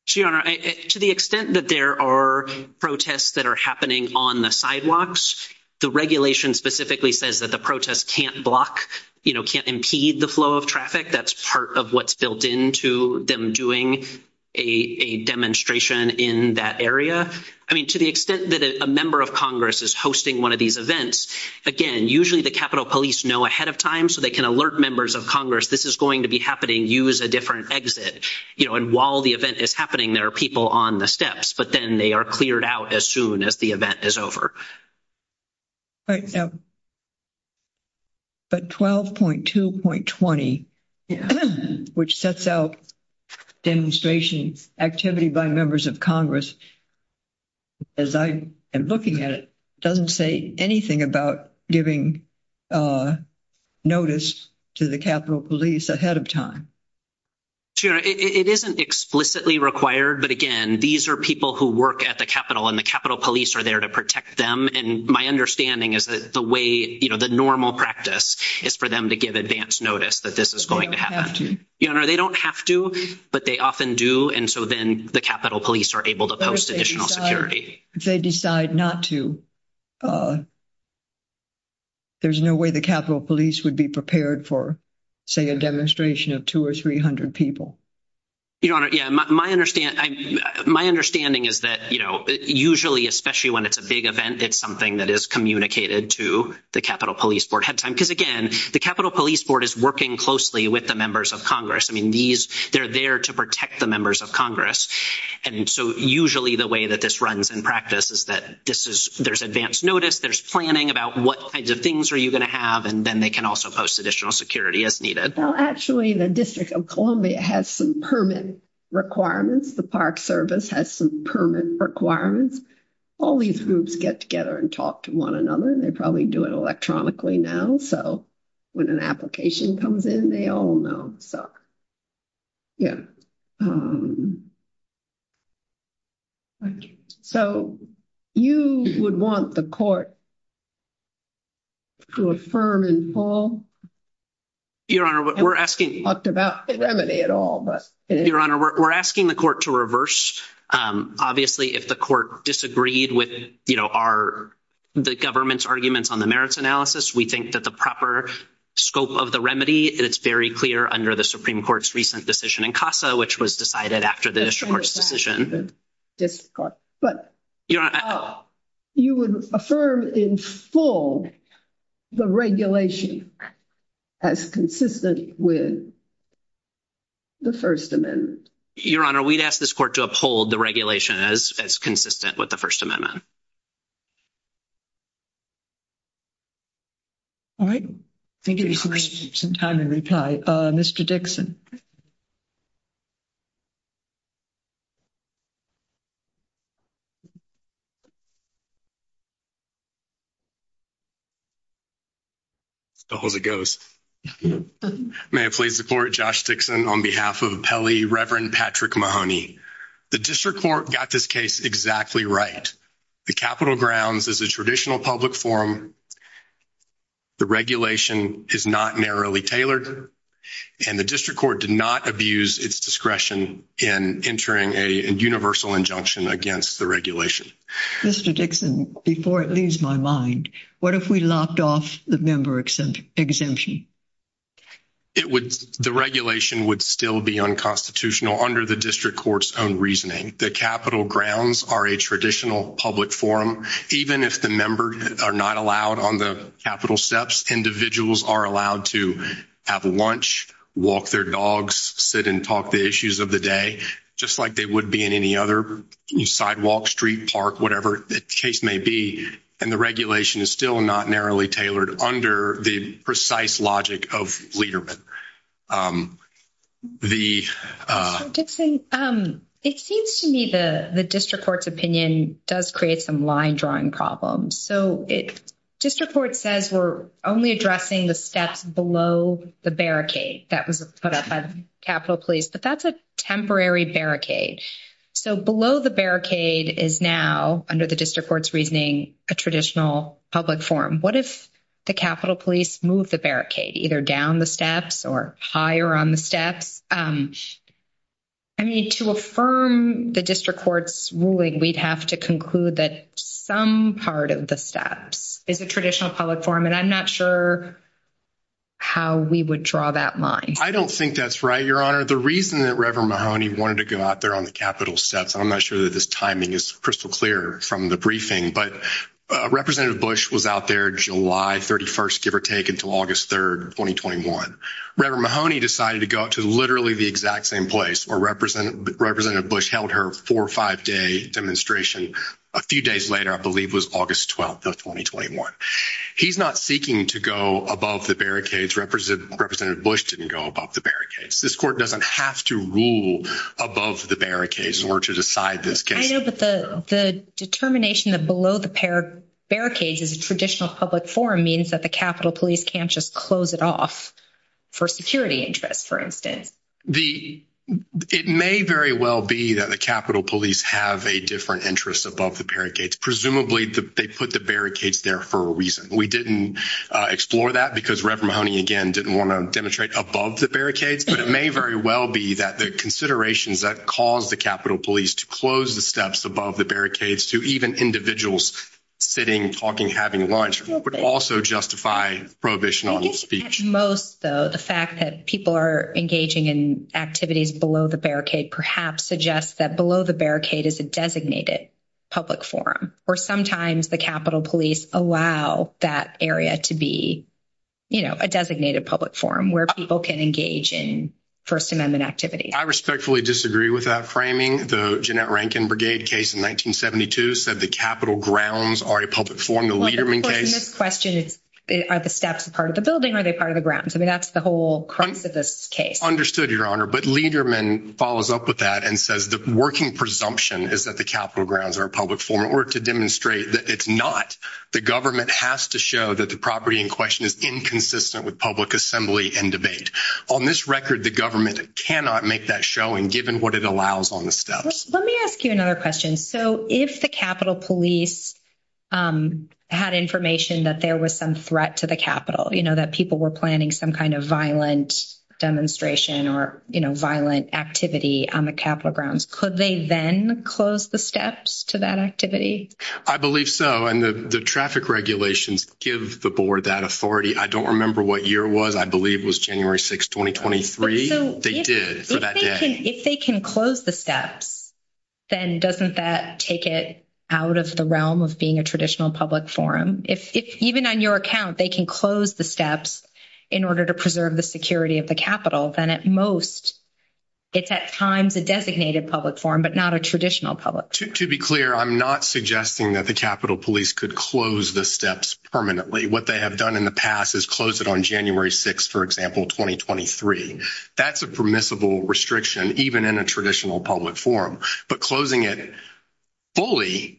To the extent that there are protests that are happening on the sidewalks, the regulation specifically says that the protest can't block, you know, can't impede the flow of traffic. That's part of what's built into them doing a demonstration in that area. I mean, to the extent that a member of Congress is hosting one of these events, again, usually the Capitol Police know ahead of time so they can alert members of Congress this is going to be happening, use a different exit. You know, and while the event is happening, there are people on the steps, but then they are cleared out as soon as the event is over. But 12.2.20, which sets out demonstration activity by members of Congress, as I am looking at it, doesn't say anything about giving notice to the Capitol Police ahead of time. It isn't explicitly required, but again, these are people who work at the Capitol, and the Capitol Police are there to protect them, and my understanding is that the way, you know, the normal practice is for them to give advance notice that this is going to happen. They don't have to. Your Honor, they don't have to, but they often do, and so then the Capitol Police are able to post additional security. But if they decide not to, there's no way the Capitol Police would be prepared for, say, a demonstration of 200 or 300 people. Your Honor, yeah, my understanding is that, you know, usually, especially when it's a big event, it's something that is communicated to the Capitol Police Board ahead of time, because again, the Capitol Police Board is working closely with the members of Congress. I mean, these, they're there to protect the members of Congress, and so usually the way that this runs in practice is that this is, there's advance notice, there's planning about what kinds of things are you going to have, and then they can also post additional security as needed. Well, actually, the District of Columbia has some permit requirements. The Park Service has some permit requirements. All these groups get together and talk to one another, and they probably do it electronically now, so when an application comes in, they all know. So you would want the court to affirm and fall? Your Honor, we're asking... We haven't talked about the remedy at all, but... Your Honor, we're asking the court to reverse. Obviously, if the court disagreed with, you know, our, the government's arguments on the merits analysis, we think that the proper scope of the remedy, it's very clear under the Supreme Court's recent decision in CASA, which was decided after the district court's decision. But you would affirm in full the regulation as consistent with the First Amendment. Your Honor, we'd ask this court to uphold the regulation as consistent with the First Amendment. All right. Thank you for taking some time to reply. Mr. Dixon. Thank you. As far as it goes. May I please support Josh Dixon on behalf of Pele, Reverend Patrick Mahoney. The district court got this case exactly right. The Capitol Grounds is a traditional public forum. The regulation is not narrowly tailored, and the district court did not abuse its discretion in entering a universal injunction against the regulation. Mr. Dixon, before it leaves my mind, what if we lopped off the member exemption? The regulation would still be unconstitutional under the district court's own reasoning. The Capitol Grounds are a traditional public forum. Even if the member are not allowed on the Capitol steps, individuals are allowed to have lunch, walk their dogs, sit and talk the issues of the day, just like they would be in any other sidewalk, street, park, whatever the case may be. And the regulation is still not narrowly tailored under the precise logic of leadermen. Mr. Dixon, it seems to me that the district court's opinion does create some line-drawing problems. District court says we're only addressing the steps below the barricade. That was put up by Capitol Police, but that's a temporary barricade. So below the barricade is now, under the district court's reasoning, a traditional public forum. What if the Capitol Police moved the barricade, either down the steps or higher on the steps? I mean, to affirm the district court's ruling, we'd have to conclude that some part of the steps is a traditional public forum, and I'm not sure how we would draw that line. I don't think that's right, Your Honor. The reason that Reverend Mahoney wanted to go out there on the Capitol steps, I'm not sure that this timing is crystal clear from the briefing, but Representative Bush was out there July 31st, give or take, until August 3rd, 2021. Reverend Mahoney decided to go out to literally the exact same place, where Representative Bush held her four- or five-day demonstration. A few days later, I believe, was August 12th of 2021. He's not seeking to go above the barricades. Representative Bush didn't go above the barricades. This court doesn't have to rule above the barricades in order to decide this case. I know, but the determination that below the barricades is a traditional public forum means that the Capitol Police can't just close it off for security interests, for instance. It may very well be that the Capitol Police have a different interest above the barricades. Presumably, they put the barricades there for a reason. We didn't explore that because Reverend Mahoney, again, didn't want to demonstrate above the barricades, but it may very well be that the considerations that caused the Capitol Police to close the steps above the barricades to even individuals sitting, talking, having lunch, would also justify prohibition on public speech. Most, though, the fact that people are engaging in activities below the barricade, perhaps suggests that below the barricade is a designated public forum, or sometimes the Capitol Police allow that area to be a designated public forum, where people can engage in First Amendment activities. I respectfully disagree with that framing. The Jeanette Rankin Brigade case in 1972 said the Capitol grounds are a public forum. The Liederman case? But the question is, are the steps part of the building, or are they part of the grounds? I mean, that's the whole crux of this case. Understood, Your Honor, but Liederman follows up with that and says the working presumption is that the Capitol grounds are a public forum, in order to demonstrate that it's not. The government has to show that the property in question is inconsistent with public assembly and debate. On this record, the government cannot make that showing, given what it allows on the steps. Let me ask you another question. So, if the Capitol Police had information that there was some threat to the Capitol, you know, that people were planning some kind of violent demonstration, or, you know, violent activity on the Capitol grounds, could they then close the steps to that activity? I believe so. And the traffic regulations give the board that authority. I don't remember what year it was. I believe it was January 6, 2023. They did. If they can close the steps, then doesn't that take it out of the realm of being a traditional public forum? If even on your account, they can close the steps in order to preserve the security of the Capitol, then at most, it's at times a designated public forum, but not a traditional public forum. To be clear, I'm not suggesting that the Capitol Police could close the steps permanently. What they have done in the past is closed it on January 6, for example, 2023. That's a permissible restriction, even in a traditional public forum. But closing it fully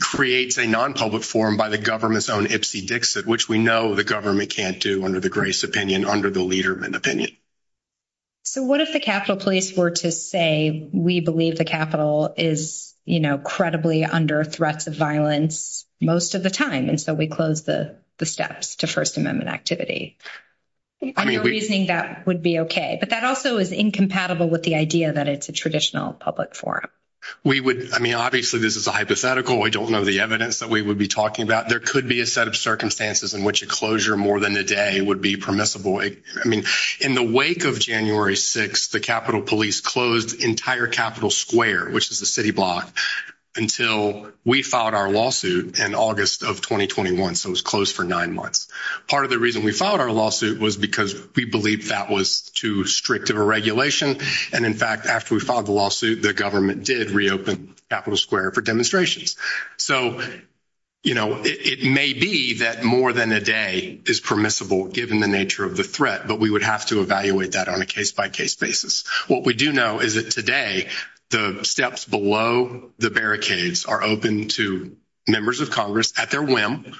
creates a non-public forum by the government's own Ipsy Dixit, which we know the government can't do under the Grace opinion, under the Liederman opinion. So what if the Capitol Police were to say, we believe the Capitol is, you know, credibly under threats of violence most of the time, and so we close the steps to First Amendment activity? On your reasoning, that would be okay. But that also is incompatible with the idea that it's a traditional public forum. We would, I mean, obviously, this is a hypothetical. I don't know the evidence that we would be talking about. There could be a set of circumstances in which a closure more than a day would be permissible. I mean, in the wake of January 6, the Capitol Police closed entire Capitol Square, which is the city block, until we filed our lawsuit in August of 2021. So it was closed for nine months. Part of the reason we filed our lawsuit was because we believed that was too strict of a regulation. And, in fact, after we filed the lawsuit, the government did reopen Capitol Square for demonstrations. So, you know, it may be that more than a day is permissible, given the nature of the threat, but we would have to evaluate that on a case-by-case basis. What we do know is that today, the steps below the barricades are open to members of Congress at their whim,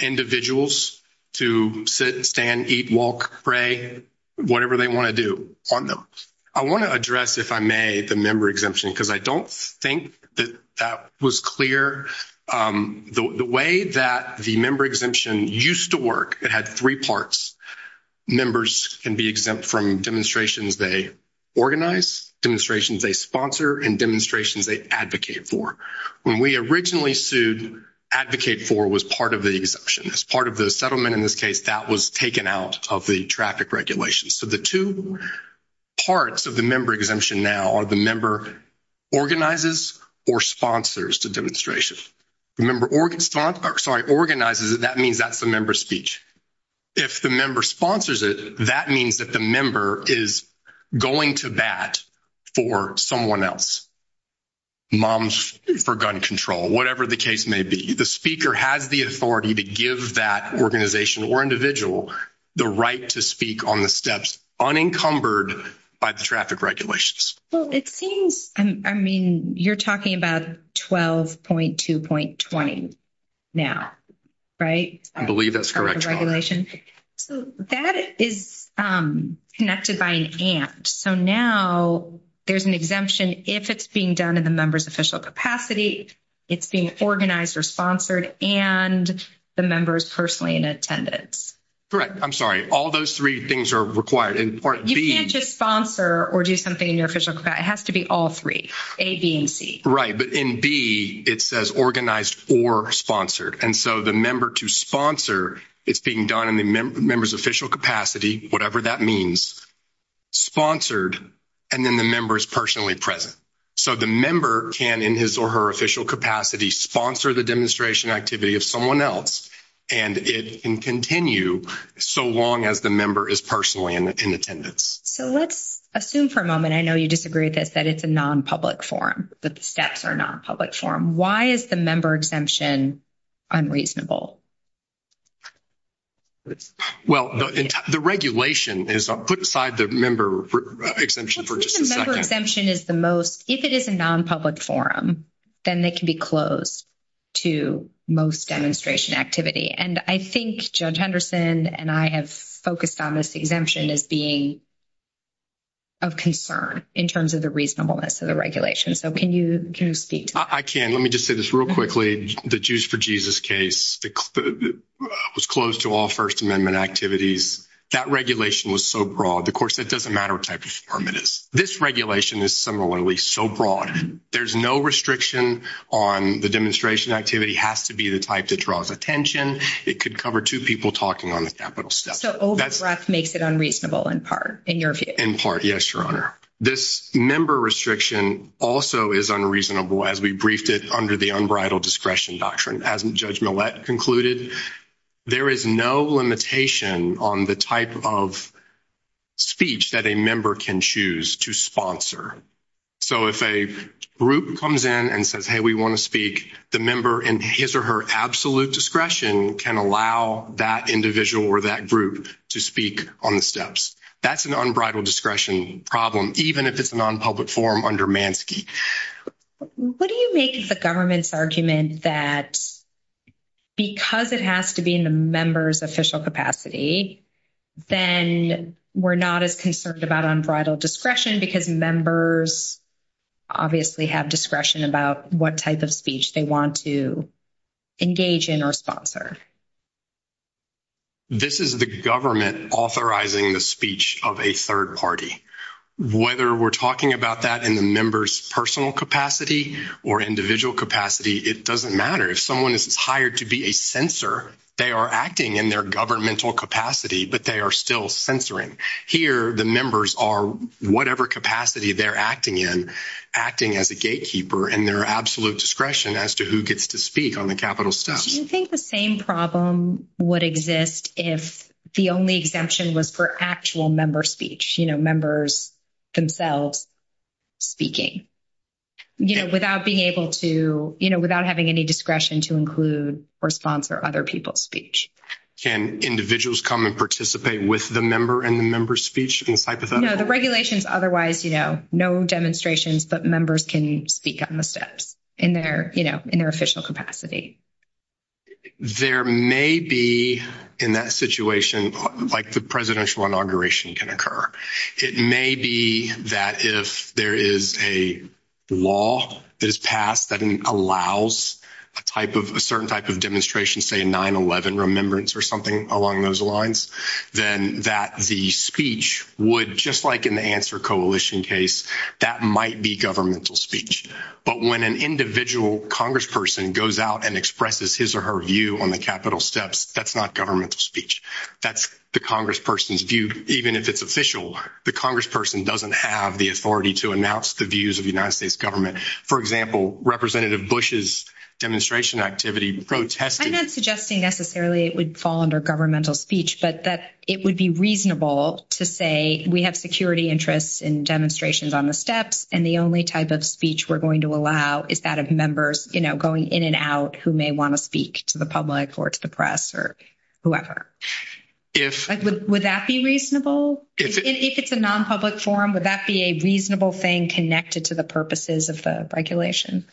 individuals to sit, stand, eat, walk, pray, whatever they want to do on them. I want to address, if I may, the member exemption, because I don't think that that was clear. The way that the member exemption used to work, it had three parts. Members can be exempt from demonstrations they organize, demonstrations they sponsor, and demonstrations they advocate for. When we originally sued, advocate for was part of the exemption. As part of the settlement in this case, that was taken out of the traffic regulations. So the two parts of the member exemption now are the member organizes or sponsors the demonstrations. The member organizes it, that means that's the member's speech. If the member sponsors it, that means that the member is going to bat for someone else. Moms for gun control, whatever the case may be. The speaker has the authority to give that organization or individual the right to speak on the steps unencumbered by the traffic regulations. Well, it seems, I mean, you're talking about 12.2.20 now, right? I believe that's correct. That is connected by an and. So now there's an exemption if it's being done in the member's official capacity, it's being organized or sponsored, and the member is personally in attendance. Correct. I'm sorry. All those three things are required. You can't just sponsor or do something in your official capacity. It has to be all three, A, B, and C. Right. But in B, it says organized or sponsored. And so the member to sponsor is being done in the member's official capacity, whatever that means, sponsored, and then the member is personally present. So the member can, in his or her official capacity, sponsor the demonstration activity of someone else, and it can continue so long as the member is personally in attendance. So let's assume for a moment, I know you disagree with this, that it's a nonpublic forum, that the steps are nonpublic forum. Why is the member exemption unreasonable? Well, the regulation is put aside the member exemption for just a second. The member exemption is the most, if it is a nonpublic forum, then they can be closed to most demonstration activity. And I think Judge Henderson and I have focused on this exemption as being of concern in terms of the reasonableness of the regulation. So can you speak to that? I can. Let me just say this real quickly. The Jews for Jesus case was closed to all First Amendment activities. That regulation was so broad. Of course, it doesn't matter what type of forum it is. This regulation is similarly so broad. There's no restriction on the demonstration activity. It has to be the type that draws attention. It could cover two people talking on the capital step. So overdraft makes it unreasonable in part, in your view? In part, yes, Your Honor. This member restriction also is unreasonable as we briefed it under the unbridled discretion doctrine. As Judge Millett concluded, there is no limitation on the type of speech that a member can choose to sponsor. So if a group comes in and says, hey, we want to speak, the member in his or her absolute discretion can allow that individual or that group to speak on the steps. That's an unbridled discretion problem, even if it's a nonpublic forum under Mansky. What do you make of the government's argument that because it has to be in the member's official capacity, then we're not as concerned about unbridled discretion because members obviously have discretion about what type of speech they want to engage in or sponsor? This is the government authorizing the speech of a third party. Whether we're talking about that in the member's personal capacity or individual capacity, it doesn't matter. If someone is hired to be a censor, they are acting in their governmental capacity, but they are still censoring. Here, the members are, whatever capacity they're acting in, acting as a gatekeeper in their absolute discretion as to who gets to speak on the capital step. Do you think the same problem would exist if the only exemption was for actual member speech, you know, members themselves speaking? You know, without being able to, you know, without having any discretion to include or sponsor other people's speech? Can individuals come and participate with the member in the member's speech? No, the regulations otherwise, you know, no demonstrations, but members can speak on the steps in their, you know, in their official capacity. There may be, in that situation, like the presidential inauguration can occur. It may be that if there is a law that is passed that allows a type of, a certain type of demonstration, say 9-11 remembrance or something along those lines, then that the speech would, just like in the Answer Coalition case, that might be governmental speech. But when an individual congressperson goes out and expresses his or her view on the capital steps, that's not governmental speech. That's the congressperson's view, even if it's official. The congressperson doesn't have the authority to announce the views of the United States government. For example, Representative Bush's demonstration activity protesting. I'm not suggesting necessarily it would fall under governmental speech, but that it would be reasonable to say, we have security interests in demonstrations on the steps, and the only type of speech we're going to allow is that of members, you know, going in and out who may want to speak to the public or to the press or whoever. Would that be reasonable? If it's a non-public forum, would that be a reasonable thing connected to the purposes of the regulations?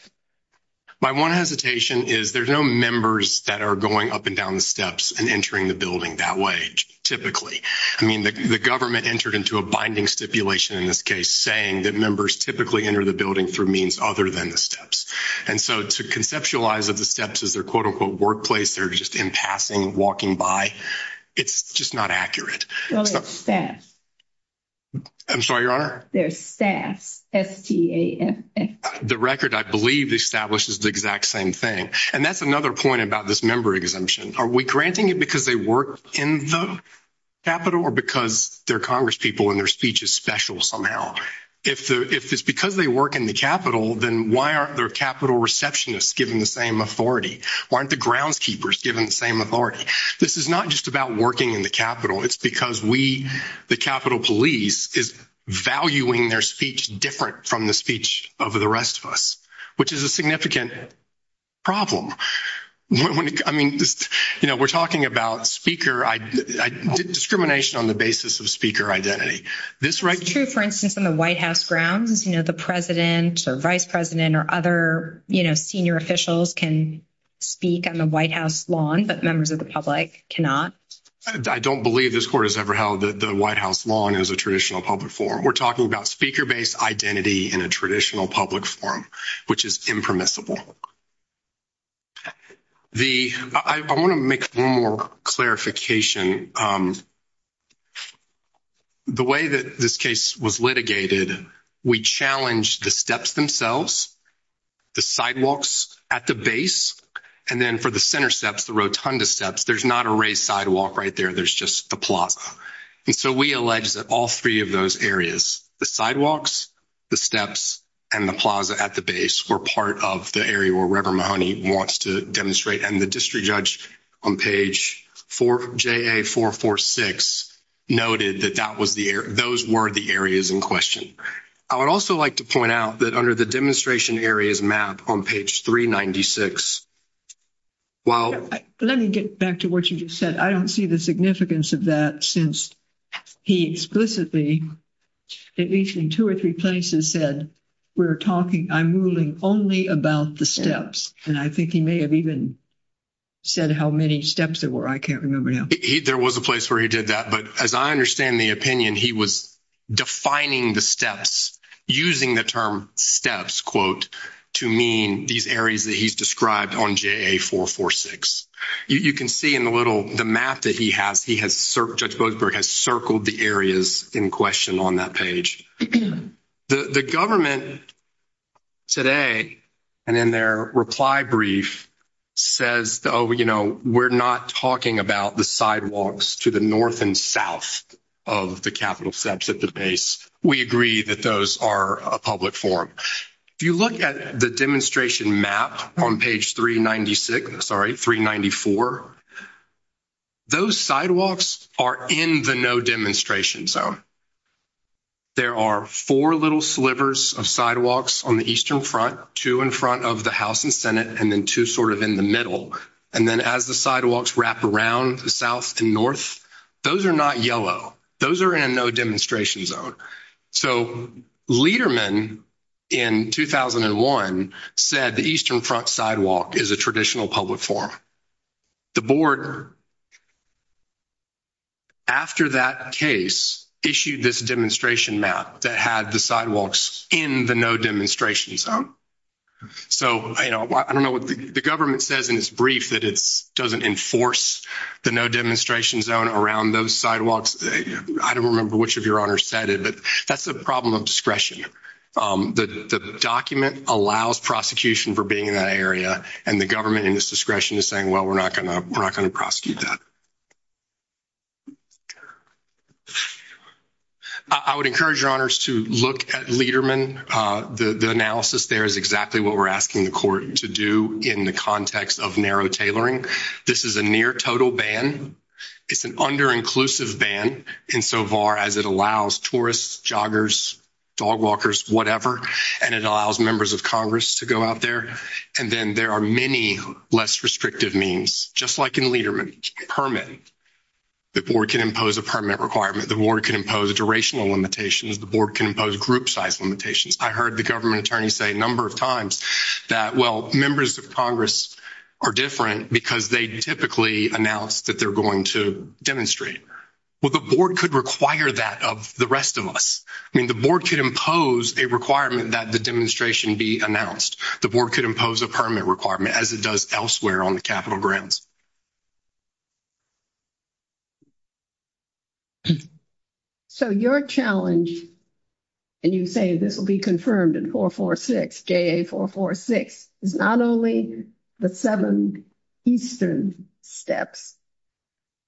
My one hesitation is, there's no members that are going up and down the steps and entering the building that way, typically. I mean, the government entered into a binding stipulation in this case, saying that members typically enter the building through means other than the steps. And so to conceptualize the steps as their quote-unquote workplace, they're just in passing, walking by, it's just not accurate. So it's staff. I'm sorry, Your Honor? They're staff. S-T-A-F-F. The record, I believe, establishes the exact same thing. And that's another point about this member exemption. Are we granting it because they work in the Capitol or because they're congresspeople and their speech is special somehow? If it's because they work in the Capitol, then why aren't their Capitol receptionists given the same authority? Why aren't the groundskeepers given the same authority? This is not just about working in the Capitol. It's because we, the Capitol Police, is valuing their speech different from the speech of the rest of us, which is a significant problem. I mean, you know, we're talking about speaker, discrimination on the basis of speaker identity. True, for instance, on the White House grounds, you know, the President, the Vice President, or other, you know, senior officials can speak on the White House lawn, but members of the public cannot. I don't believe this Court has ever held that the White House lawn is a traditional public forum. We're talking about speaker-based identity in a traditional public forum, which is impermissible. I want to make one more clarification. The way that this case was litigated, we challenged the steps themselves, the sidewalks at the base, and then for the center steps, the rotunda steps, there's not a raised sidewalk right there, there's just the plaza. And so we allege that all three of those areas, the sidewalks, the steps, and the plaza at the base, were part of the area where Reverend Mahoney wants to demonstrate. And the district judge on page 4, JA446, noted that that was the area, those were the areas in question. I would also like to point out that under the demonstration areas map on page 396, while... Let me get back to what you just said. I don't see the significance of that since he explicitly, at least in two or three places, said, we're talking, I'm ruling only about the steps. And I think he may have even said how many steps there were. I can't remember now. There was a place where he did that. But as I understand the opinion, he was defining the steps, using the term steps, quote, to mean these areas that he's described on JA446. You can see in the little, the map that he has, he has... Judge Bloomberg has circled the areas in question on that page. The government today, and in their reply brief, says, oh, you know, we're not talking about the sidewalks to the north and south of the capital steps at the base. We agree that those are a public forum. If you look at the demonstration map on page 396, sorry, 394, those sidewalks are in the no demonstration zone. There are four little slivers of sidewalks on the eastern front, two in front of the House and Senate, and then two sort of in the middle. And then as the sidewalks wrap around the south and north, those are not yellow. Those are in no demonstration zone. So, Lederman, in 2001, said the eastern front sidewalk is a traditional public forum. The board, after that case, issued this demonstration map that had the sidewalks in the no demonstration zone. So, you know, I don't know what the government says in its brief that it doesn't enforce the no demonstration zone around those sidewalks. I don't remember which of your honors said it, but that's a problem of discretion. The document allows prosecution for being in that area and the government in its discretion is saying, well, we're not going to prosecute that. I would encourage your honors to look at Lederman. The analysis there is exactly what we're asking the court to do in the context of narrow tailoring. This is a near total ban. It's an under-inclusive ban insofar as it allows tourists, joggers, dog walkers, whatever, and it allows members of Congress to go out there. And then there are many less restrictive means, just like in Lederman. Permit. The board can impose a permit requirement. The board can impose a duration limitation. The board can impose group size limitations. I heard the government attorney say a number of times that, well, members of Congress are different because they typically announce that they're going to demonstrate. Well, the board could require that of the rest of us. I mean, the board could impose a requirement that the demonstration be announced. The board could impose a permit requirement as it does elsewhere on the capital grounds. So your challenge, and you say this will be confirmed in 446, JA446, is not only the seven eastern steps,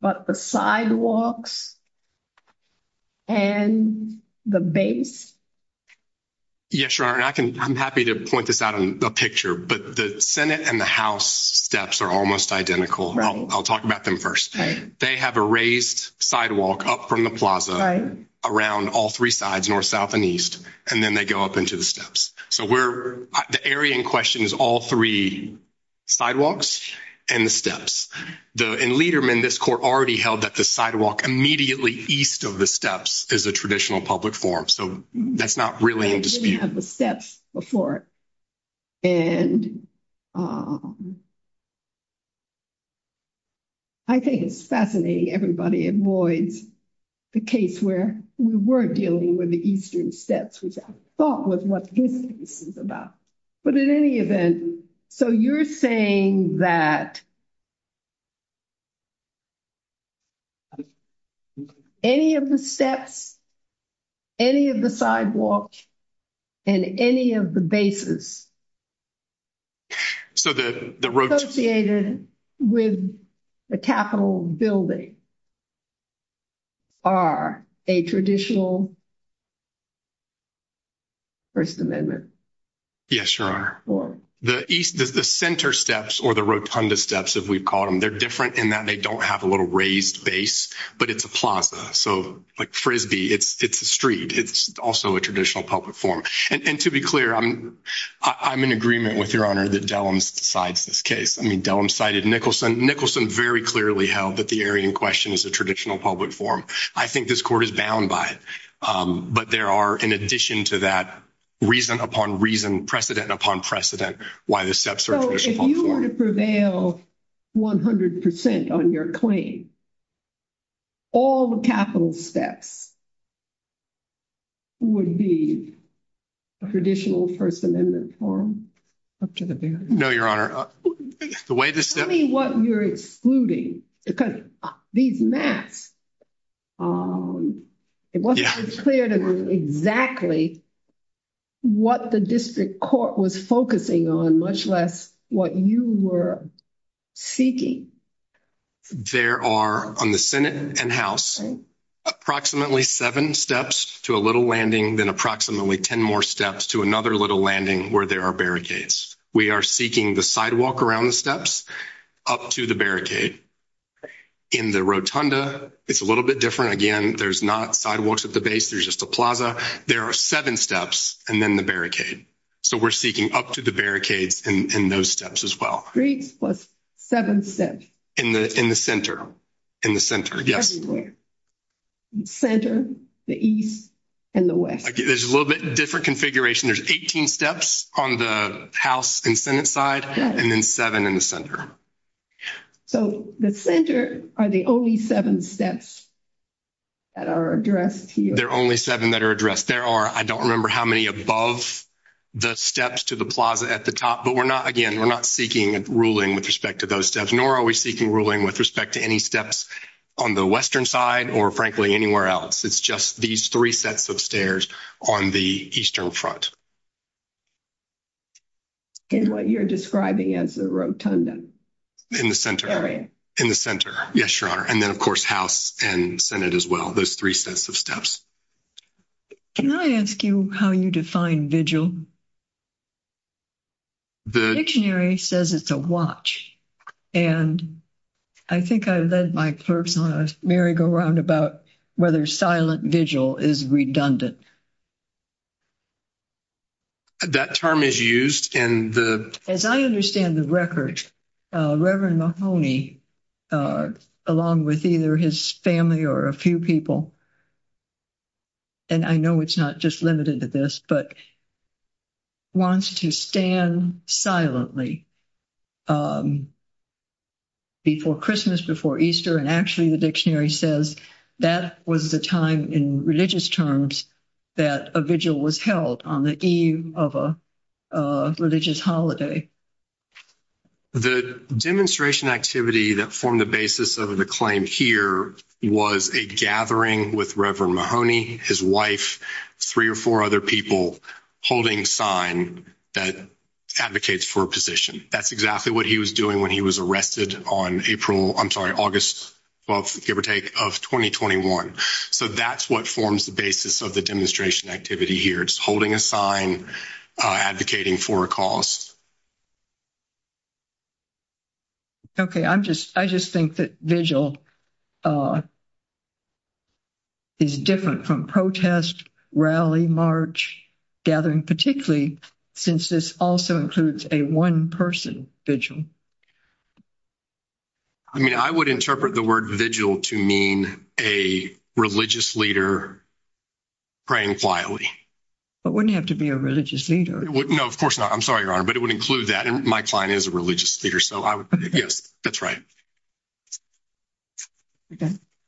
but the sidewalks and the base. Yes, Sharon. I'm happy to point this out in a picture, but the Senate and the House steps are almost identical. I'll talk about them first. They have a raised sidewalk up from the plaza around all three sides, north, south, and east, and then they go up into the steps. So the area in question is all three sidewalks and the steps. In Lederman, this court already held that the sidewalk immediately east of the steps is the traditional public forum. So that's not really in dispute. I didn't have the steps before. And I think it's fascinating everybody avoids the case where we were dealing with the eastern steps, which I thought was what this is about. But in any event, so you're saying that any of the steps, any of the sidewalks, and any of the bases associated with the capital building are a traditional First Amendment? Yes, Your Honor. The center steps or the rotunda steps, as we call them, they're different in that they don't have a little raised base, but it's a plaza. So like Frisbee, it's a street. It's also a traditional public forum. And to be clear, I'm in agreement with Your Honor that Dellums decides this case. I mean, Dellums cited Nicholson. Nicholson very clearly held that the area in question is a traditional public forum. I think this court is bound by it. But there are, in addition to that, reason upon reason, precedent upon precedent, why the steps are traditional. So if you were to prevail 100% on your claim, all the capital steps would be a traditional First Amendment forum? No, Your Honor. Tell me what you're excluding, because these maps, it wasn't clear to me exactly what the district court was focusing on, much less what you were seeking. There are, on the Senate and House, approximately seven steps to a little landing, then approximately ten more steps to another little landing where there are barricades. We are seeking the sidewalk around the steps up to the barricade. In the rotunda, it's a little bit different. Again, there's not sidewalks at the base. There's just a plaza. There are seven steps, and then the barricade. So we're seeking up to the barricades in those steps as well. Three plus seven steps. In the center. In the center, yes. The center, the east, and the west. There's a little bit different configuration. There's 18 steps on the House and Senate side, and then seven in the center. So the center are the only seven steps that are addressed here. They're only seven that are addressed. There are, I don't remember how many, above the steps to the plaza at the top, but we're not, again, we're not seeking ruling with respect to those steps, nor are we seeking ruling with respect to any steps on the western side, or frankly, anywhere else. It's just these three sets of stairs on the eastern front. In what you're describing as the rotunda. In the center. In the center. Yes, Your Honor. And then, of course, House and Senate as well. Those three sets of steps. Can I ask you how you define vigil? The dictionary says it's a watch. And I think I led my clerks on a merry-go-round about whether silent vigil is redundant. That term is used in the... As I understand the record, Reverend Mahoney, along with either his family or a few people, and I know it's not just limited to this, but wants to stand silently. Before Christmas, before Easter, and actually the dictionary says that was the time in religious terms that a vigil was held on the eve of a religious holiday. The demonstration activity that formed the basis of the claim here was a gathering with Reverend Mahoney, his wife, three or four other people holding sign that advocates for a position. That's exactly what he was doing when he was arrested on April, I'm sorry, August 12th, give or take, of 2021. So that's what forms the basis of the demonstration activity here. It's holding a sign advocating for a cause. Okay, I'm just, I just think that vigil is different from protest, rally, march, gathering, particularly since this also includes a one-person vigil. I mean, I would interpret the word vigil to mean a religious leader praying slyly. But wouldn't it have to be a religious leader? No, of course not. I'm sorry, Your Honor, but it would include that, and my client is a religious leader, so I would, yes, that's right.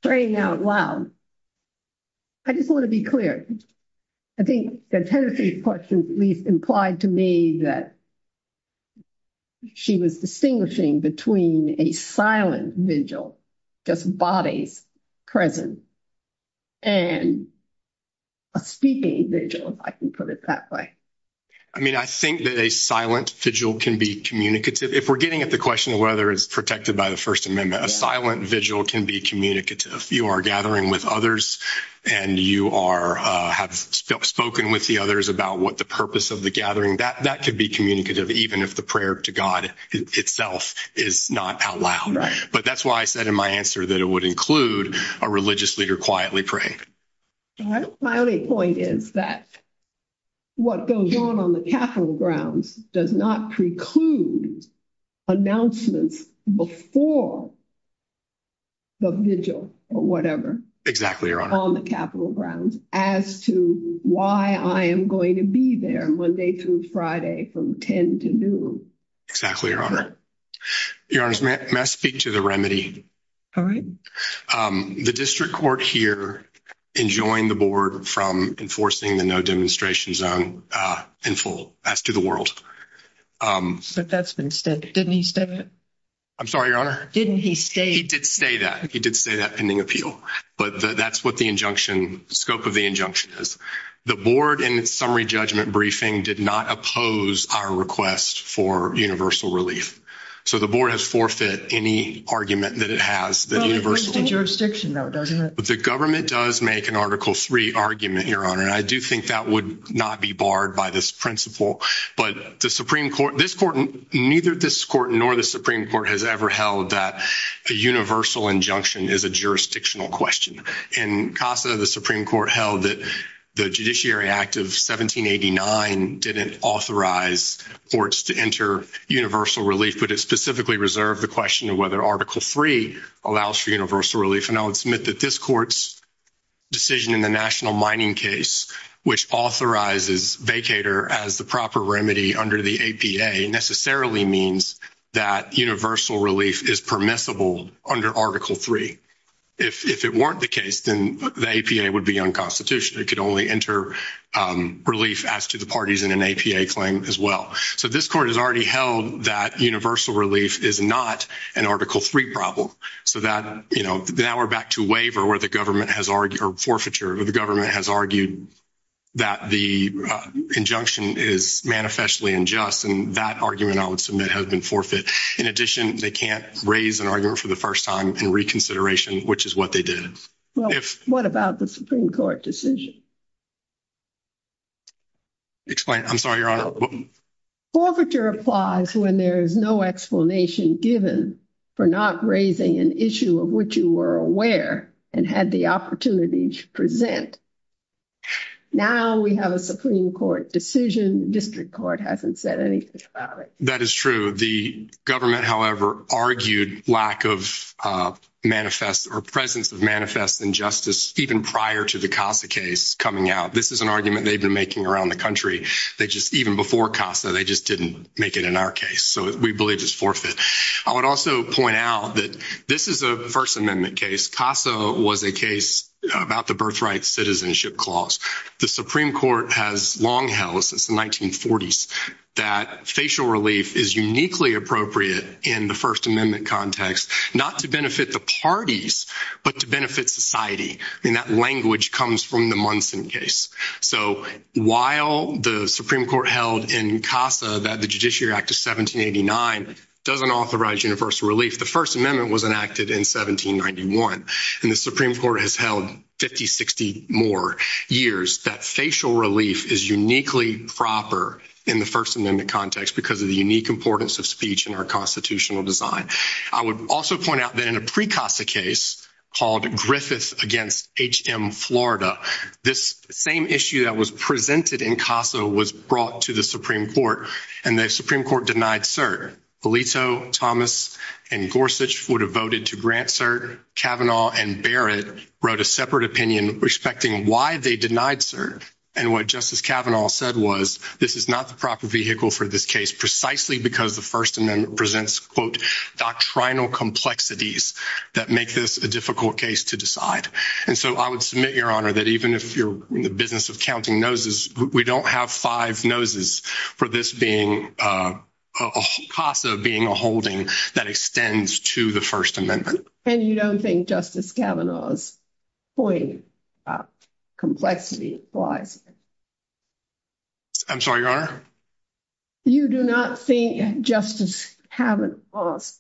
Praying out loud. I just want to be clear. I think that Tennessee's question implied to me that she was distinguishing between a silent vigil, just bodies present, and a speaking vigil, if I can put it that way. I mean, I think that a silent vigil can be communicative. If we're getting at the question of whether it's protected by the First Amendment, a silent vigil can be communicative. If you are gathering with others, and you have spoken with the others about what the purpose of the gathering, that could be communicative, even if the prayer to God itself is not out loud. But that's why I said in my answer that it would include a religious leader quietly praying. My only point is that what goes on on the Capitol grounds does not preclude announcements before the vigil or whatever. Exactly, Your Honor. On the Capitol grounds as to why I am going to be there Monday through Friday from 10 to noon. Exactly, Your Honor. Your Honor, may I speak to the remedy? All right. The district court here enjoined the board from enforcing the no-demonstration zone in full, as to the world. But that's been said. Didn't he say that? I'm sorry, Your Honor? Didn't he say that? He did say that. He did say that pending appeal. But that's what the injunction, scope of the injunction is. The board, in its summary judgment briefing, did not oppose our request for universal relief. So the board has forfeited any argument that it has that universal. But it breaks the jurisdiction, though, doesn't it? The government does make an Article III argument, Your Honor. And I do think that would not be barred by this principle. But the Supreme Court, this court, neither this court nor the Supreme Court has ever held that a universal injunction is a jurisdictional question. In CASA, the Supreme Court held that the Judiciary Act of 1789 didn't authorize courts to enter universal relief, but it specifically reserved the question of whether Article III allows for universal relief. And I would submit that this court's decision in the national mining case, which authorizes vacator as the proper remedy under the APA, necessarily means that universal relief is permissible under Article III. If it weren't the case, then the APA would be unconstitutional. It could only enter relief as to the parties in an APA claim as well. So this court has already held that universal relief is not an Article III problem. So that, you know, now we're back to waiver where the government has argued, or forfeiture, where the government has argued that the injunction is manifestly unjust. And that argument, I would submit, has been forfeit. In addition, they can't raise an argument for the first time in reconsideration, which is what they did. Well, what about the Supreme Court decision? Explain. I'm sorry, Your Honor. Forfeiture applies when there is no explanation given for not raising an issue of which you were aware and had the opportunity to present. Now we have a Supreme Court decision. District Court hasn't said anything about it. That is true. The government, however, argued lack of manifest or presence of manifest injustice even prior to the CASA case coming out. This is an argument they've been making around the country. They just, even before CASA, they just didn't make it in our case. So we believe it's forfeit. I would also point out that this is a First Amendment case. CASA was a case about the Birthright Citizenship Clause. The Supreme Court has long held since the 1940s that facial relief is uniquely appropriate in the First Amendment context, not to benefit the parties, but to benefit society. And that language comes from the Munson case. So while the Supreme Court held in CASA that the Judiciary Act of 1789 doesn't authorize universal relief, the First Amendment was enacted in 1791. And the Supreme Court has held 50, 60 more years that facial relief is uniquely proper in the First Amendment context because of the unique importance of speech in our constitutional design. I would also point out that in a pre-CASA case called Griffith against H.M. Florida, this same issue that was presented in CASA was brought to the Supreme Court, and the Supreme Court denied cert. Belito, Thomas, and Gorsuch would have voted to grant cert. Kavanaugh and Barrett wrote a separate opinion respecting why they denied cert. And what Justice Kavanaugh said was, this is not the proper vehicle for this case precisely because the First Amendment presents, quote, doctrinal complexities that make this a difficult case to decide. And so I would submit, Your Honor, that even if you're in the business of counting noses, we don't have five noses for this CASA being a holding that extends to the First Amendment. And you don't think Justice Kavanaugh's point about complexity applies? I'm sorry, Your Honor? You do not think Justice Kavanaugh's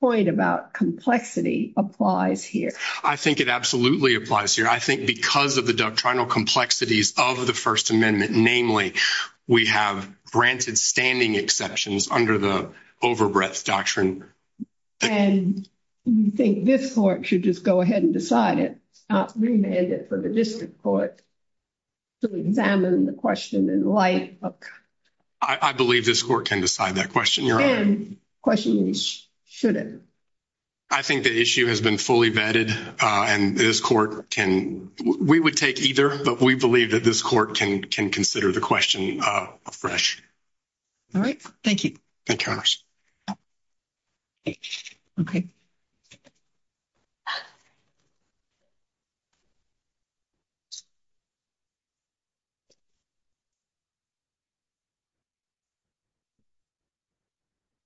point about complexity applies here? I think it absolutely applies here. I think because of the doctrinal complexities of the First Amendment, namely, we have granted standing exceptions under the overbreadth doctrine. And you think this court should just go ahead and decide it, not remand it for the district court to examine the question in light of... I believe this court can decide that question, Your Honor. And the question is, should it? I think the issue has been fully vetted, and this court can... We would take either, but we believe that this court can consider the question afresh. All right. Thank you. Thank you very much.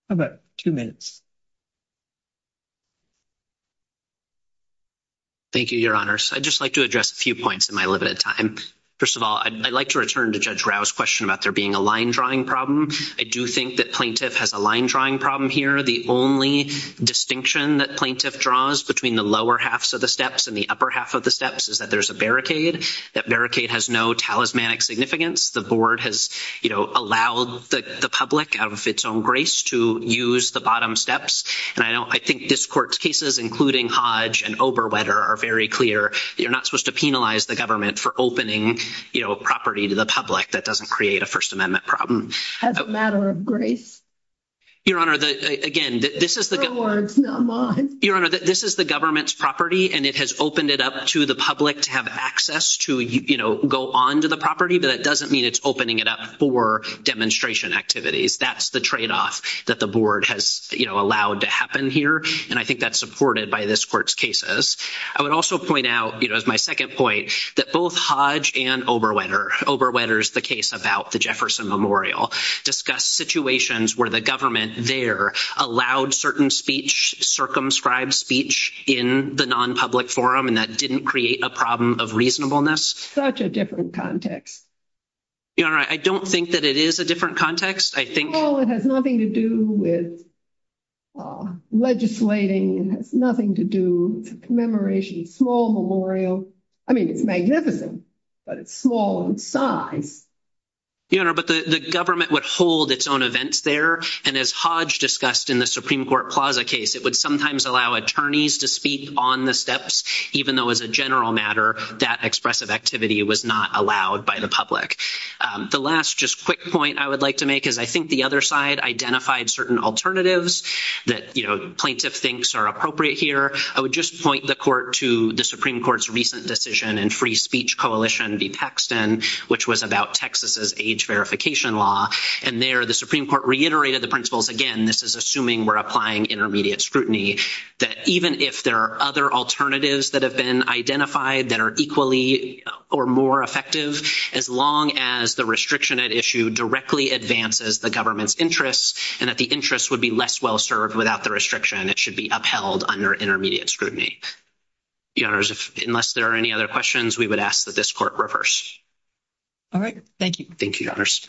About two minutes. Thank you, Your Honors. I'd just like to address a few points in my limited time. First of all, I'd like to return to Judge Grau's question about there being a line-drawing problem. I do think that plaintiff has a line-drawing problem here. The only distinction that plaintiff draws between the lower halves of the steps and the upper half of the steps is that there's a barricade. That barricade has no talismanic significance. The board has, you know, allowed the public, out of its own grace, to use the bottom steps. And I think this court's cases, including Hodge and Oberwetter, are very clear. You're not supposed to penalize the government for opening, you know, property to the public. That doesn't create a First Amendment problem. As a matter of grace. Your Honor, again, this is the government's property, and it has opened it up to the public to have access to, you know, go on to the property, but that doesn't mean it's opening it up for demonstration activities. That's the tradeoff that the board has, you know, allowed to happen here, and I think that's supported by this court's cases. I would also point out, you know, as my second point, that both Hodge and Oberwetter, Oberwetter's the case about the Jefferson Memorial, discussed situations where the government there allowed certain speech, circumscribed speech, in the nonpublic forum, and that didn't create a problem of reasonableness. Such a different context. Your Honor, I don't think that it is a different context. Well, it has nothing to do with legislating. It has nothing to do with commemoration. It's a small memorial. I mean, it's magnificent, but it's small in size. Your Honor, but the government would hold its own events there, and as Hodge discussed in the Supreme Court Plaza case, it would sometimes allow attorneys to speak on the steps, even though as a general matter, that expressive activity was not allowed by the public. The last just quick point I would like to make is, I think the other side identified certain alternatives that, you know, plaintiff thinks are appropriate here. I would just point the court to the Supreme Court's recent decision in Free Speech Coalition v. Texton, which was about Texas's age verification law, and there the Supreme Court reiterated the principles, again, this is assuming we're applying intermediate scrutiny, that even if there are other alternatives that have been identified that are equally or more effective, as long as the restriction at issue directly advances the government's interest, and that the interest would be less well served without the restriction, it should be upheld under intermediate scrutiny. Your Honors, unless there are any other questions, we would ask that this court reverse. All right. Thank you. Thank you, Your Honors.